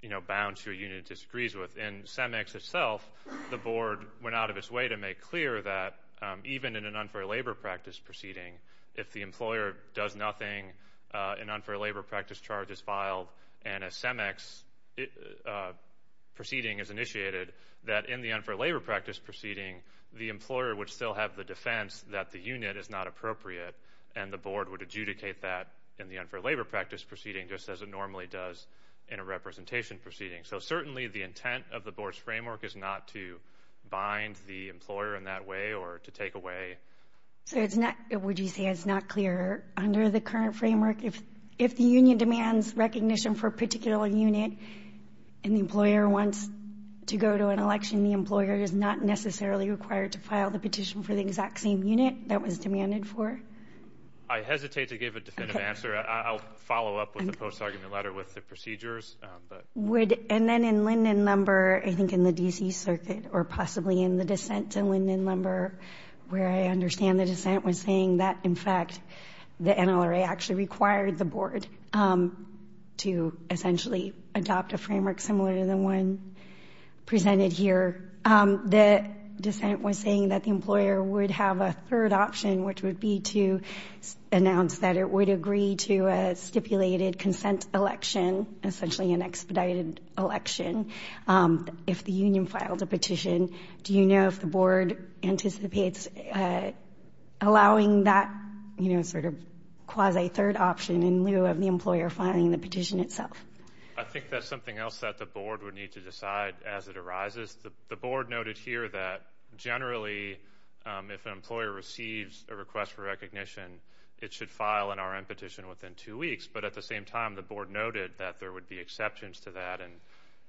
you know bound to a unit disagrees with in CEMEX itself the board went out of its way to make clear that even in an unfair labor practice proceeding if the employer does nothing an unfair labor practice charge is filed and a CEMEX it proceeding is initiated that in the unfair labor practice proceeding the employer would still have the defense that the unit is not appropriate and the board would adjudicate that in the unfair labor practice proceeding just as it normally does in a representation proceeding so certainly the intent of the board's framework is not to bind the employer in that way or to take away so it's not it would you say it's not clear under the current framework if if the union demands recognition for a particular unit an employer wants to go to an election the employer is not necessarily required to file the petition for the exact same unit that was demanded for I hesitate to give a definitive answer I'll follow up with the post-argument letter with the procedures would and then in Linden number I think in the DC circuit or possibly in the dissent to Linden number where I understand the dissent was saying that in fact the NLRA actually required the board to essentially adopt a framework similar to the one presented here the dissent was saying that the employer would have a third option which would be to announce that it would agree to a stipulated consent election essentially an expedited election if the union filed a petition do you know if the board anticipates allowing that you know sort of quasi third option in lieu of the employer finding the petition itself I think that's something else that the board would need to decide as it arises the board noted here that generally if an employer receives a request for recognition it should file an RM petition within two weeks but at the same time the board noted that there would be exceptions to that and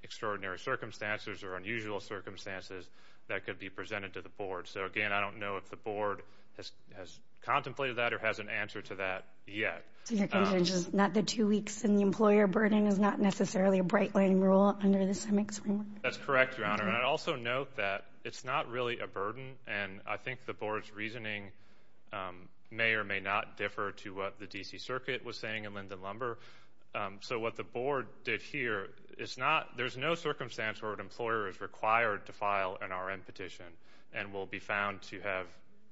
extraordinary circumstances or unusual circumstances that could be presented to the board so again I don't know if the board has contemplated that or has an answer to that yet not the two weeks and the employer burning is not necessarily a breakaway rule under this that's correct your honor and also note that it's not really a burden and I think the board's reasoning may or may not differ to what the DC Circuit was saying and Linda lumber so what the board did here it's not there's no circumstance where an employer is required to file an RM petition and will be found to have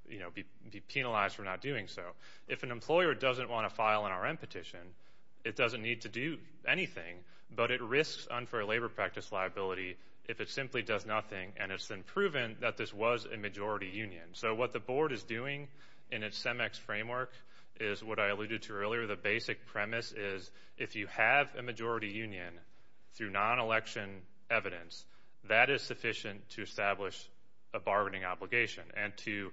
you know be penalized for not doing so if an employer doesn't want to file an RM petition it doesn't need to do anything but it risks unfair labor practice liability if it simply does nothing and it's been proven that this was a majority Union so what the board is doing in its CEMEX framework is what I alluded to earlier the basic premise is if you have a majority Union through non-election evidence that is sufficient to establish a bargaining obligation and to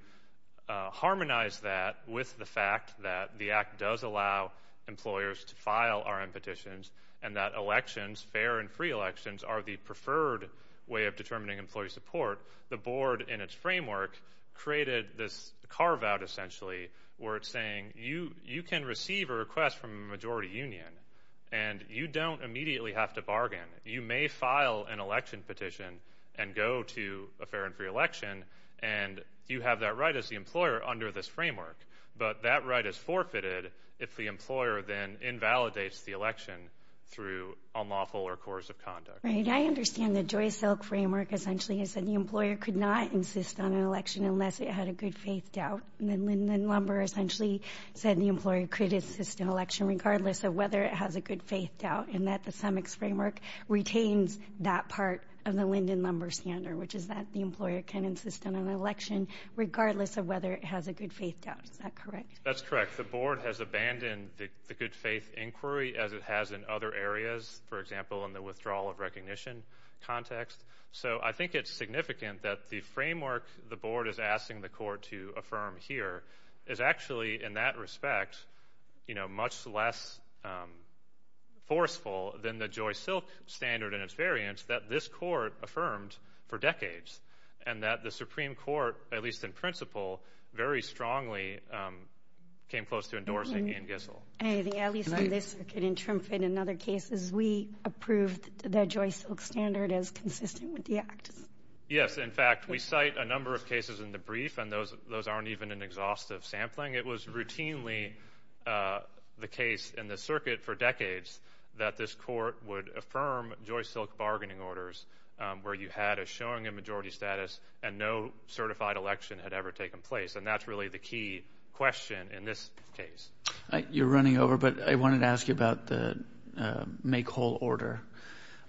harmonize that with the fact that the act does allow employers to file RM petitions and that elections fair and free elections are the preferred way of determining employee support the board in its framework created this carve-out essentially where it's saying you you can receive a request from a majority Union and you don't immediately have to bargain you may file an election petition and go to a fair and free election and you have that right as the employer under this framework but that right is forfeited if the employer then invalidates the election through unlawful or coercive conduct. I understand the Joy Silk framework essentially is that the employer could not insist on an election unless it had a good faith doubt and Linden Lumber essentially said the employer could insist an election regardless of whether it has a good faith doubt and that the CEMEX framework retains that part of the Linden Lumber standard which is that the employer can insist on an election regardless of whether it has a good faith doubt. Is that correct? That's correct the board has abandoned the good faith inquiry as it has in other areas for example in the withdrawal of recognition context so I think it's significant that the framework the board is asking the court to affirm here is actually in that respect you know much less forceful than the Joy Silk standard and its variance that this court affirms for decades and that the Supreme Court at least in principle very strongly came close to endorsing in Gissel. At least in this circuit in Trimford in other cases we approved the Joy Silk standard as consistent with the act. Yes in fact we cite a number of cases in the brief and those those aren't even an exhaustive sampling it was routinely the case in the circuit for decades that this court would affirm Joy Silk bargaining orders where you had a showing in majority status and no certified election had ever taken place and that's really the key question in this case. You're running over but I wanted to ask you about the make whole order.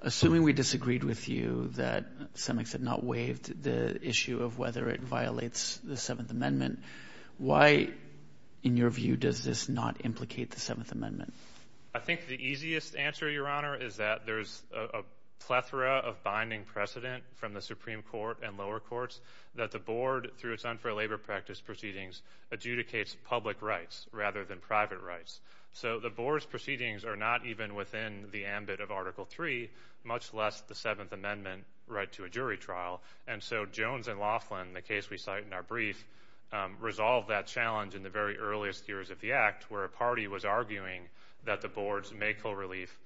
Assuming we disagreed with you that CEMEX had not waived the issue of whether it violates the Seventh Amendment why in your view does this not implicate the Seventh Amendment? I think the easiest answer your honor is that there's a plethora of binding precedent from the Supreme Court and lower courts that the board through its unfair labor practice proceedings adjudicates public rights rather than private rights. So the board's proceedings are not even within the ambit of Article 3 much less the Seventh Amendment right to a jury trial and so Jones and Laughlin the case we cite in our brief resolved that challenge in the very earliest years of the act where a party was arguing that the board's make whole relief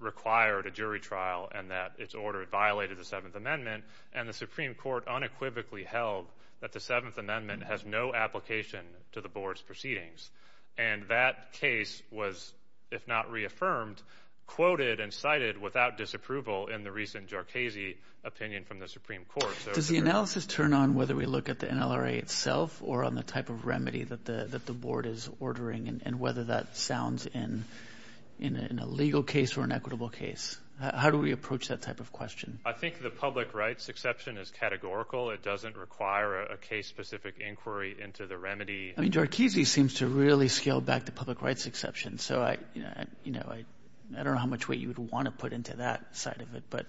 required a jury trial and that it's ordered violated the Seventh Amendment and the Supreme Court unequivocally held that the Seventh Amendment has no application to the board's proceedings and that case was if not reaffirmed quoted and cited without disapproval in the recent Jharkhese opinion from the Supreme Court. Does the analysis turn on whether we look at the NLRA itself or on the type of remedy that the that the board is ordering and whether that sounds in in a legal case or an equitable case? How do we approach that type of question? I think the public rights exception is categorical it doesn't require a case specific inquiry into the remedy. I mean Jharkhese seems to really scale back the public rights exception so I you know I I don't know how much weight you would want to put into that side of it but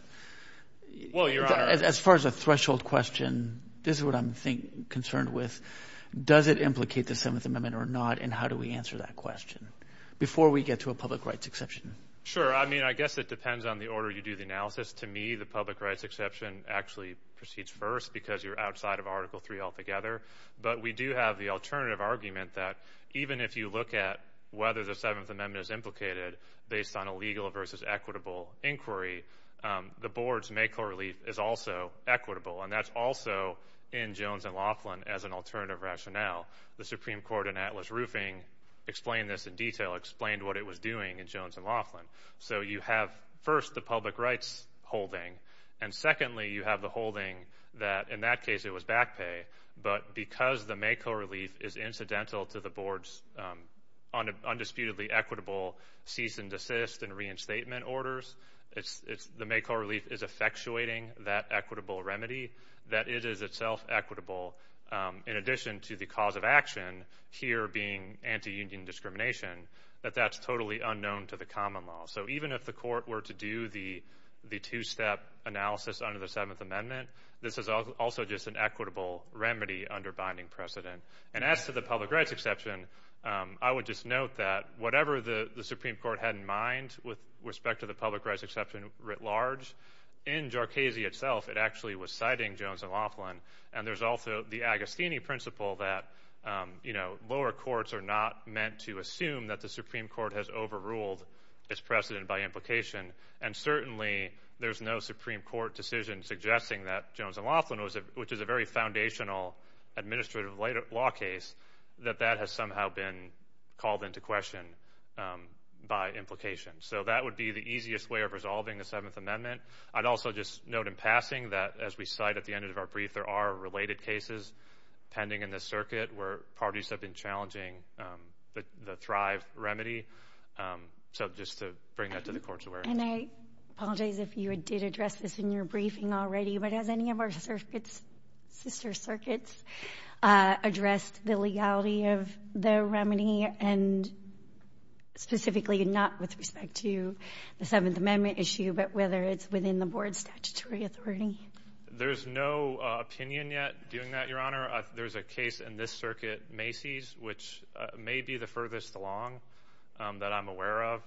as far as a threshold question this is I'm think concerned with does it implicate the Seventh Amendment or not and how do we answer that question before we get to a public rights exception? Sure I mean I guess it depends on the order you do the analysis to me the public rights exception actually proceeds first because you're outside of Article 3 altogether but we do have the alternative argument that even if you look at whether the Seventh Amendment is implicated based on a legal versus equitable inquiry the board's make whole relief is also equitable and that's also in Jones and Laughlin as an alternative rationale. The Supreme Court in Atlas Roofing explained this in detail explained what it was doing in Jones and Laughlin so you have first the public rights holding and secondly you have the holding that in that case it was back pay but because the make whole relief is incidental to the board's undisputedly equitable cease and desist and reinstatement orders it's the make whole relief is effectuating that equitable remedy that it is itself equitable in addition to the cause of action here being anti-union discrimination that that's totally unknown to the common law so even if the court were to do the the two-step analysis under the Seventh Amendment this is also just an equitable remedy under binding precedent and as to the public rights exception I would just note that whatever the Supreme Court had in mind with respect to the public rights exception writ large in Jharkhese itself it actually was citing Jones and Laughlin and there's also the Agostini principle that you know lower courts are not meant to assume that the Supreme Court has overruled its precedent by implication and certainly there's no Supreme Court decision suggesting that Jones and Laughlin was a which is a very foundational administrative law case that that has somehow been called into question by implication so that would be the easiest way of resolving the Seventh Amendment I'd also just note in passing that as we cite at the end of our brief there are related cases pending in the circuit where parties have been challenging but the Thrive remedy so just to bring that to the courts aware and I apologize if you did address this in your briefing already but as any of our circuits sister circuits addressed the legality of the remedy and specifically not with respect to the Seventh Amendment issue but whether it's within the board statutory authority there's no opinion yet doing that your honor there's a case in this circuit Macy's which may be the furthest along that I'm aware of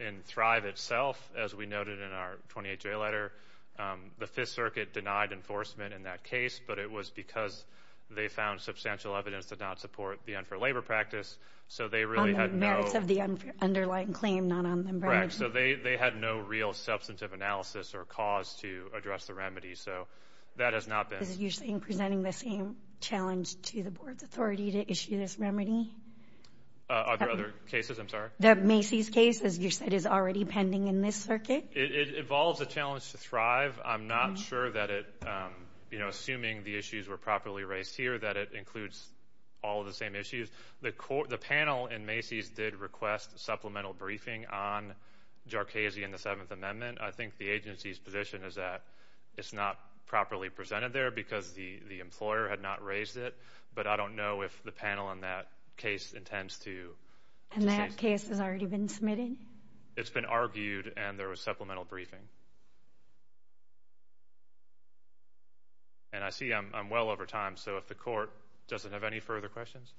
in Thrive itself as we noted in our 28-day letter the Fifth Circuit denied enforcement in that case but it was because they found substantial evidence to not support the end for labor practice so they really have no of the underlying claim not on them right so they had no real substantive analysis or cause to address the remedy so that has not been usually in presenting the same challenge to the board authority to issue this remedy other cases I'm sorry that Macy's case as you said is already pending in this circuit it involves a challenge to Thrive I'm not sure that it you know assuming the issues were properly raised here that it includes all the same issues the court the panel and Macy's did request supplemental briefing on Jharkhese in the Seventh Amendment I think the agency's position is that it's not properly presented there because the the employer had not raised it but I don't know if the panel on that case intends to and that case has already been submitted it's been argued and there was supplemental briefing and I see I'm well over time so if the court doesn't have any further questions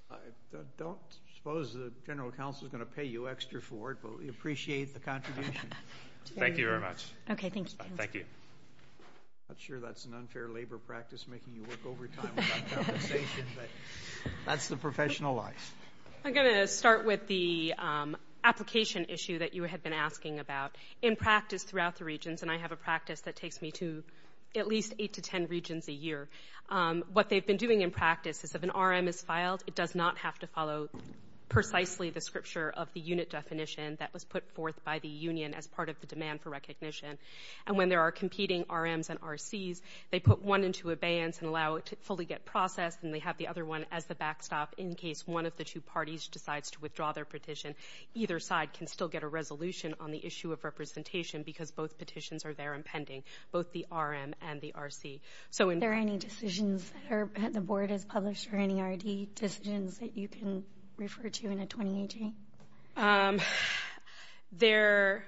don't suppose the general counsel is going to pay you extra for it but we appreciate the contribution thank you very much okay thank you thank you I'm sure that's an unfair labor practice making you work overtime that's the professional life I'm going to start with the application issue that you had been asking about in practice throughout the regions and I have a practice that takes me to at least eight to ten regions a year what they've been doing in practice is if an RM is filed it does not have to follow precisely the scripture of the unit definition that was put forth by the Union as part of the demand for recognition and when there are competing RM's and RC's they put one into abeyance and allow it to fully get processed and they have the other one as the backstop in case one of the two parties decides to withdraw their petition either side can still get a resolution on the issue of representation because both petitions are there impending both the RM and the RD decisions that you can refer to in a 2018 there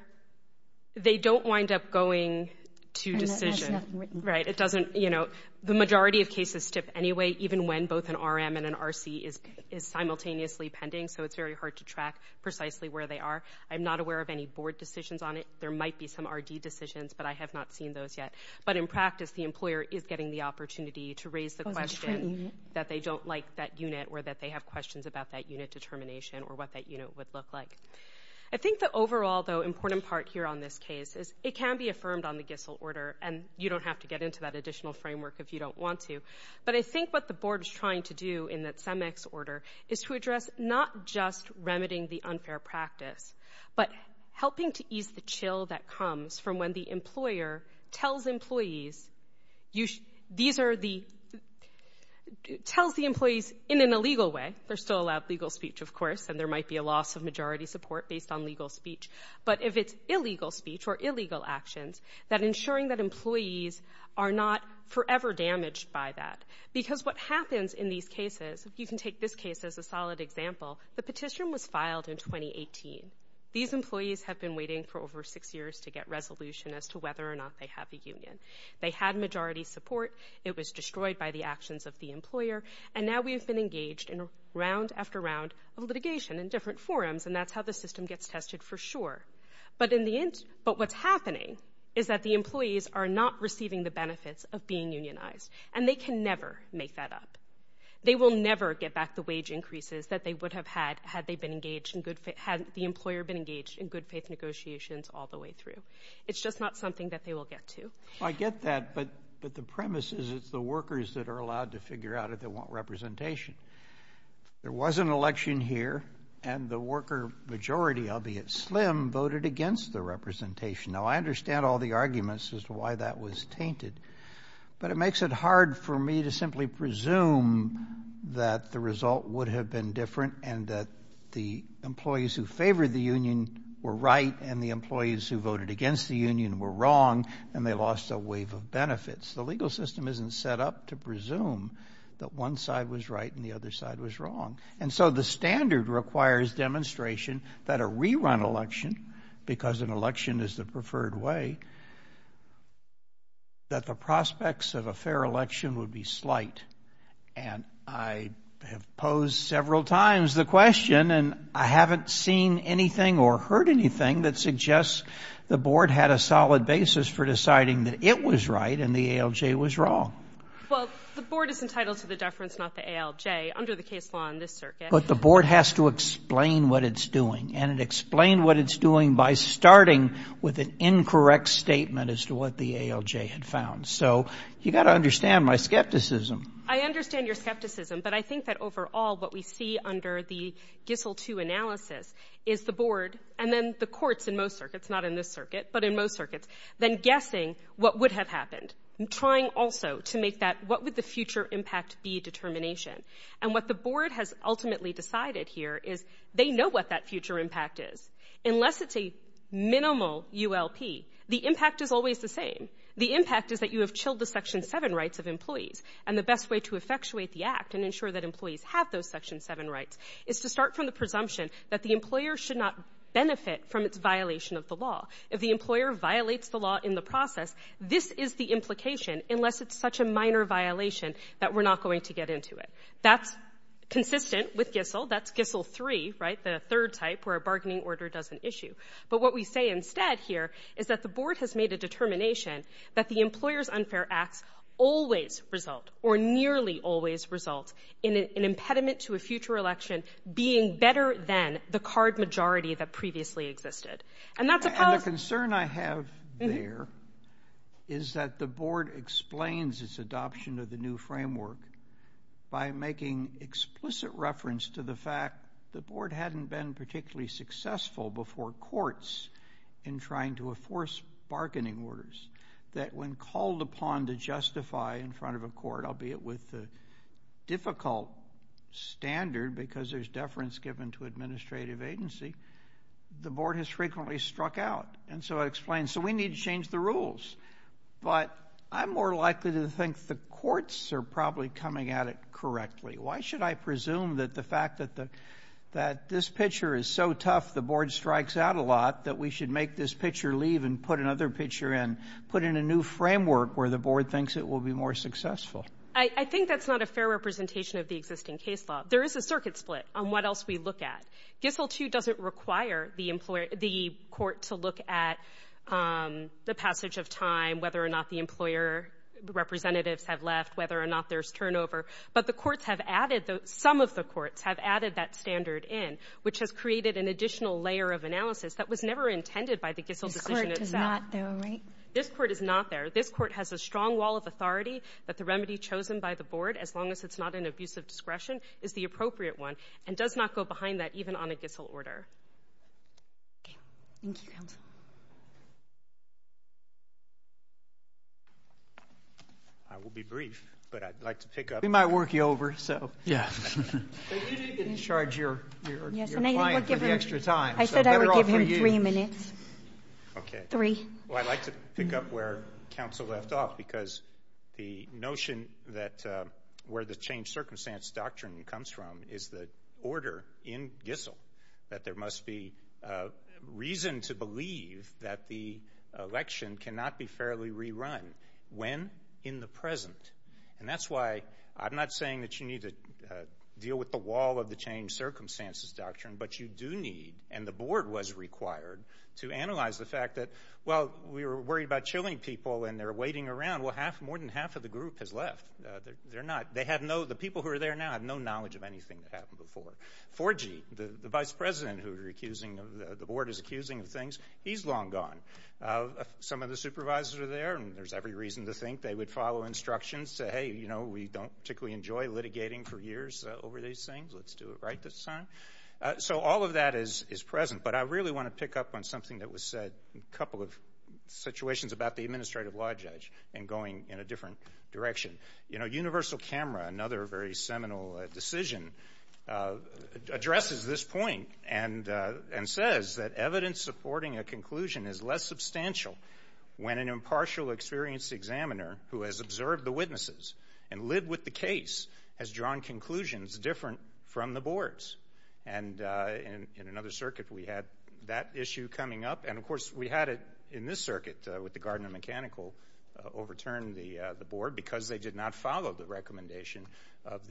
they don't wind up going to decision right it doesn't you know the majority of cases tip anyway even when both an RM and an RC is simultaneously pending so it's very hard to track precisely where they are I'm not aware of any board decisions on it there might be some RD decisions but I have not seen those yet but in practice the employer is getting the opportunity to raise the question that they don't like that unit or that they have questions about that unit determination or what that unit would look like I think that overall though important part here on this case is it can be affirmed on the Gissel order and you don't have to get into that additional framework if you don't want to but I think what the board is trying to do in that some X order is to address not just remedying the unfair practice but helping to ease the chill that comes from when the employer tells employees you these are the healthy employees in an illegal way they're still allowed legal speech of course and there might be a loss of majority support based on legal speech but if it's illegal speech or illegal actions that ensuring that employees are not forever damaged by that because what happens in these cases you can take this case as a solid example the petition was filed in 2018 these employees have been waiting for over six years to get resolution as to whether or not they have the union they had majority support it was destroyed by the actions of the employer and now we've been engaged in round after round of litigation in different forums and that's how the system gets tested for sure but in the end but what's happening is that the employees are not receiving the benefits of being unionized and they can never make that up they will never get back the wage increases that they would have had had they been engaged in good fit had the employer been engaged in good negotiations all the way through it's just not something that they will get to I get that but but the premise is it's the workers that are allowed to figure out if they want representation there was an election here and the worker majority albeit slim voted against the representation now I understand all the arguments as to why that was tainted but it makes it hard for me to simply presume that the result would have been different and that the employees who favored the Union were right and the employees who voted against the Union were wrong and they lost a wave of benefits the legal system isn't set up to presume that one side was right and the other side was wrong and so the standard requires demonstration that a rerun election because an election is the preferred way that the prospects of a fair election would be slight and I have posed several times the question and I haven't seen anything or heard anything that suggests the board had a solid basis for deciding that it was right and the ALJ was wrong but the board has to explain what it's doing and it explained what it's doing by starting with an incorrect statement as to what the ALJ had found so you got to understand my skepticism I understand your skepticism but I think that overall what we see under the GIFL 2 analysis is the board and then the courts in most circuits not in this circuit but in most circuits then guessing what would have happened and trying also to make that what would the future impact be determination and what the board has ultimately decided here is they know what that future impact is unless it's a minimal ULP the impact is always the same the impact is that you have chilled the section 7 rights of employees and the best way to effectuate the act and ensure that employees have those section 7 rights it's to start from the presumption that the employer should not benefit from its violation of the law if the employer violates the law in the process this is the implication unless it's such a minor violation that we're not going to get into it that's consistent with GIFL that's GIFL 3 right the third type where a bargaining order does an issue but what we say instead here is that the board has made a determination that the employers unfair act always result or nearly always result in an impediment to a future election being better than the card majority that previously existed and that's a concern I have here is that the board explains its adoption of the new framework by making explicit reference to the fact the board hadn't been particularly successful before courts in trying to enforce bargaining orders that when called upon to justify in front of a court albeit with the difficult standard because there's deference given to administrative agency the board has frequently struck out and so I explained so we need to change the rules but I'm more likely to think the courts are probably coming at it correctly why should I presume that the fact that the that this picture is so tough the board strikes out a lot that we should make this picture leave and put another picture in put in a new framework where the board thinks it will be more successful I think that's not a fair representation of the existing case law there is a circuit split on what else we look at GIFL 2 doesn't require the employer the court to look at the passage of time whether or not the employer representatives have left whether or not there's turnover but the courts have added some of the courts have added that standard in which has created an additional layer of analysis that was never intended by the GIFL decision itself. This court is not there. This court has a strong wall of authority but the remedy chosen by the board as long as it's not an abusive discretion is the appropriate one and does not go behind that even on a GIFL order. I will be brief but I'd like to pick up we might work you over so yeah charge your extra time I said three minutes okay three well I like to pick up where counsel left off because the notion that where the change circumstance doctrine comes from is the order in GIFL that there must be reason to believe that the election cannot be fairly rerun when in the present and that's why I'm not saying that you need to deal with the wall of the change circumstances doctrine but you do need and the board was required to analyze the fact that well we were worried about chilling people and they're waiting around well half more than half of the group has left they're not they have no the people who are there now have no knowledge of anything that happened before. 4G the vice president who you're accusing the board is accusing things he's long gone some of the supervisors are there and there's every reason to think they would follow instructions say hey you know we don't particularly enjoy litigating for years over these things let's do it right this time so all of that is is present but I really want to pick up on something that was said a couple of situations about the administrative law judge and going in a different direction you know universal camera another very seminal decision addresses this point and and says that evidence supporting a conclusion is less substantial when an impartial experienced examiner who has observed the witnesses and live with the case has drawn conclusions different from the boards and in another circuit we had that issue coming up and of course we had it in this circuit with the mechanical overturn the the board because they did not follow the recommendation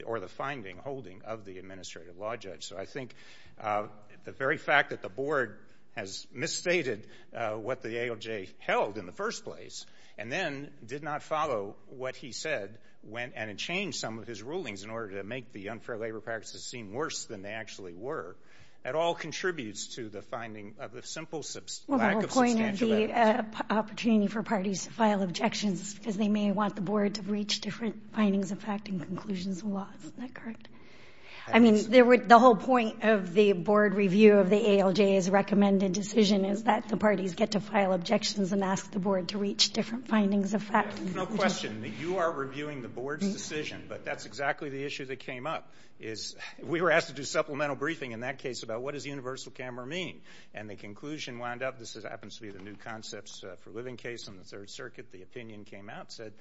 or the finding holding of the administrative law judge so I think the very fact that the board has misstated what the AOJ held in the first place and then did not follow what he said when and it changed some of his rulings in order to make the unfair labor practices seem worse than they actually were at all contributes to the finding of the simple opportunity for parties to file objections because they may want the board to reach different findings of fact and conclusions a lot I mean there were the whole point of the board review of the AOJ is recommended decision is that the parties get to file objections and ask the board to reach different findings of fact you are reviewing the board's decision but that's exactly the issue that came up is we were asked to do supplemental briefing in that case about what is universal camera mean and the conclusion wound up this is happens to be the new concepts for living case on the Third Circuit the opinion came out said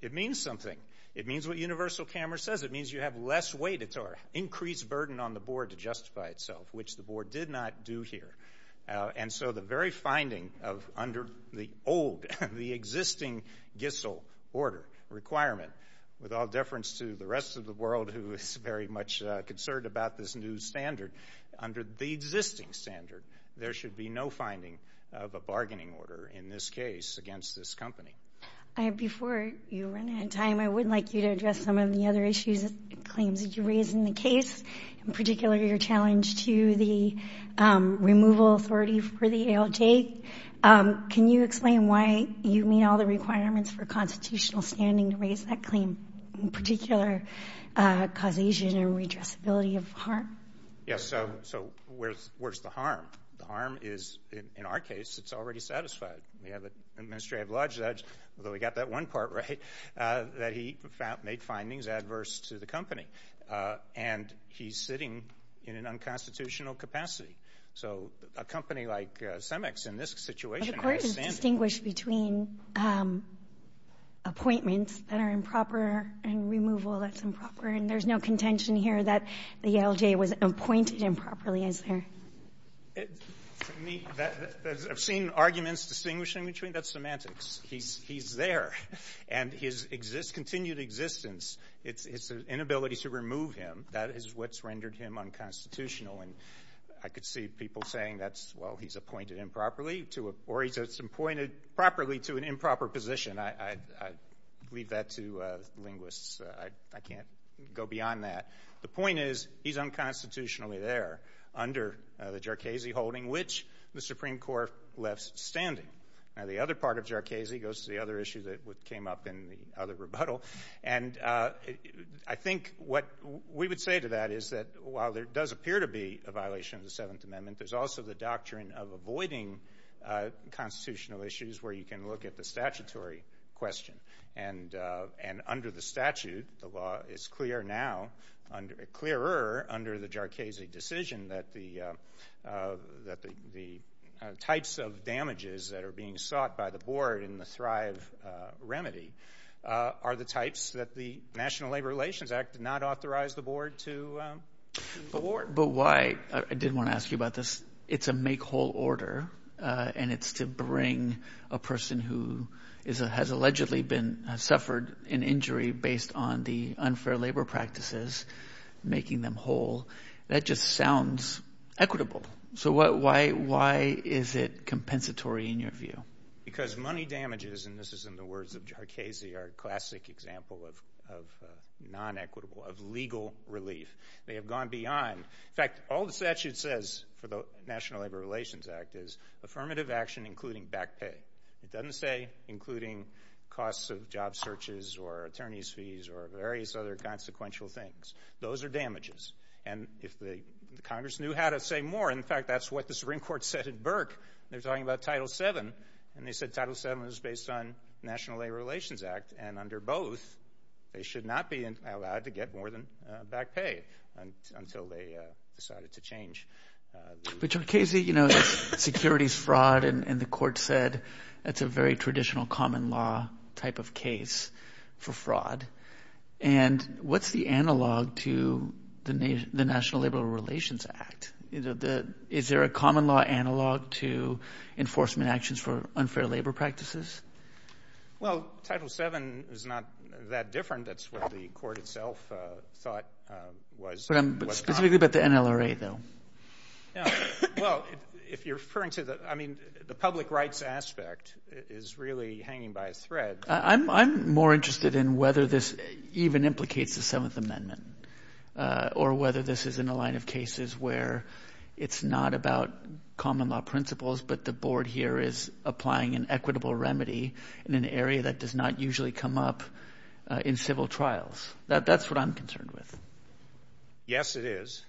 it means something it means what universal camera says it means you have less weight it's our increased burden on the board to justify itself which the board did not do here and so the very finding of under the old the existing gets old order requirement with all difference to the rest of the world very much concerned about this new standard under the existing standard there should be no finding of a bargaining order in this case against this company I have before you run out of time I would like you to address some of the other issues claims did you raise in the case in particular your challenge to the removal authorities for the AOJ can you explain why you mean all the requirements for constitutional standing to raise that claim in particular causation and redress ability of harm yes so so where's the harm the harm is in our case it's already satisfied you know the administrative lodge that's really got that one part right that he made findings adverse to the company and he's sitting in an unconstitutional capacity so a company like CEMEX in this situation is distinguished between appointments that are improper and removal that's improper and there's no contention here that the AOJ was appointed improperly is there I've seen arguments distinguishing between that semantics he's there and his exist continued existence it's an inability to remove him that is what's rendered him unconstitutional and I could see people saying that's well he's appointed improperly to or he's appointed properly to an improper position I read that to linguists I can't go beyond that the point is he's unconstitutionally there under the Jercasey holding which the Supreme Court left standing now the other part of Jercasey goes to the other issue that came up in the other rebuttal and I think what we would say to that is that while there does appear to be a avoiding constitutional issues where you can look at the statutory question and and under the statute the law is clear now under a clearer under the Jercasey decision that the that the types of damages that are being sought by the board in the thrive remedy are the types that the National Labor Relations Act did not authorize the board to award but why I didn't want to you about this it's a make whole order and it's to bring a person who is it has allegedly been suffered an injury based on the unfair labor practices making them whole that just sounds equitable so what why why is it compensatory in your view because money damages and this is in the words of Jercasey our classic example of non-equitable of legal relief they have gone beyond in fact all the statute says for the National Labor Relations Act is affirmative action including back pay it doesn't say including costs of job searches or attorney's fees or various other consequential things those are damages and if the Congress knew how to say more in fact that's what the Supreme Court said at Burke they're talking about title 7 and they said title 7 was based on National Labor Relations Act and under both they should not be allowed to get more than back pay until they decided to change the Jercasey you know securities fraud and the court said that's a very traditional common law type of case for fraud and what's the analog to the national liberal relations act you know the is there a common law analog to enforcement actions for unfair labor practices well title 7 is not that different that's what the court itself thought was but the NLRA though well if you're referring to that I mean the public rights aspect is really hanging by a thread I'm more interested in whether this even implicates the 7th amendment or whether this is in a line of cases where it's not about common law principles but the board here is applying an equitable remedy in an area that does not usually come up in civil trials that that's what I'm concerned with yes it is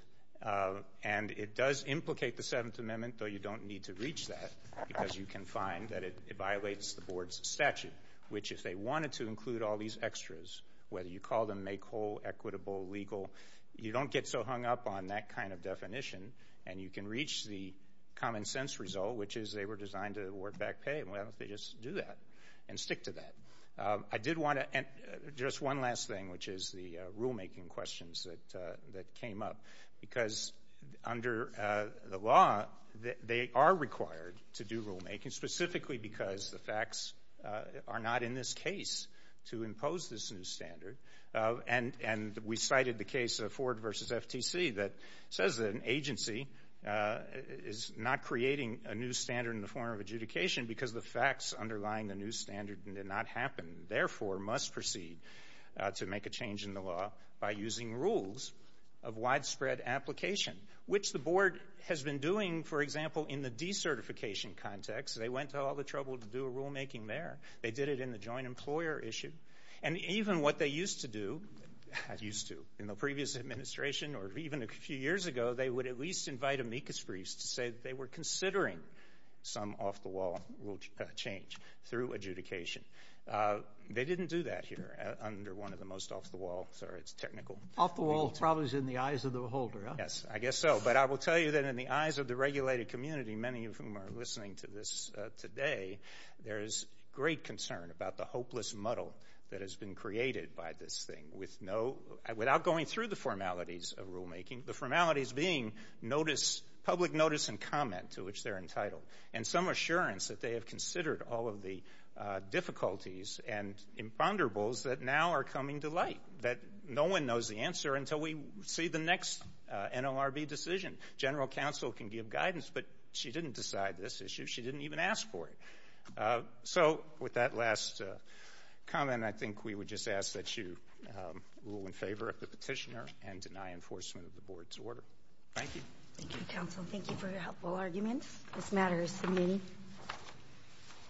and it does implicate the 7th amendment though you don't need to reach that because you can find that it violates the board's statute which is they wanted to include all these extras whether you call them make whole equitable legal you don't get so hung up on that kind of definition and you can reach the common-sense result which is they were designed to work back pay well they just do that and stick to that I did want to and just one last thing which is the rulemaking questions that that came up because under the law that they are required to do rulemaking specifically because the facts are not in this case to impose this new standard and and we cited the case of Ford versus FTC that says that an agency is not creating a new standard in the form of adjudication because the facts underlying the new standard did not happen therefore must proceed to make a change in the law by using rules of widespread application which the board has been doing for example in the decertification context they went to all the trouble to do a rulemaking there they did it in the joint employer issue and even what they used to do used to in the previous administration or even a few years ago they would at least invite amicus priest say they were considering some off-the-wall will change through adjudication they didn't do that here under one of the most off-the-wall technical off-the-wall problems in the eyes of the beholder yes I guess so but I will tell you that in the eyes of the regulated community many of whom are listening to this today there is great concern about the hopeless muddle that has been created by this thing with no without going through the formalities of rulemaking the formalities being notice public notice and comment to which they're entitled and some assurance that they have considered all of the difficulties and imponderables that now are coming to light that no one knows the answer until we see the next NLRB decision general counsel can give guidance but she didn't decide this issue she didn't even ask for it so with that last comment I think we would just ask that you rule in favor of the petitioner and deny enforcement of the board's order thank you thank you for your helpful arguments this matter is to me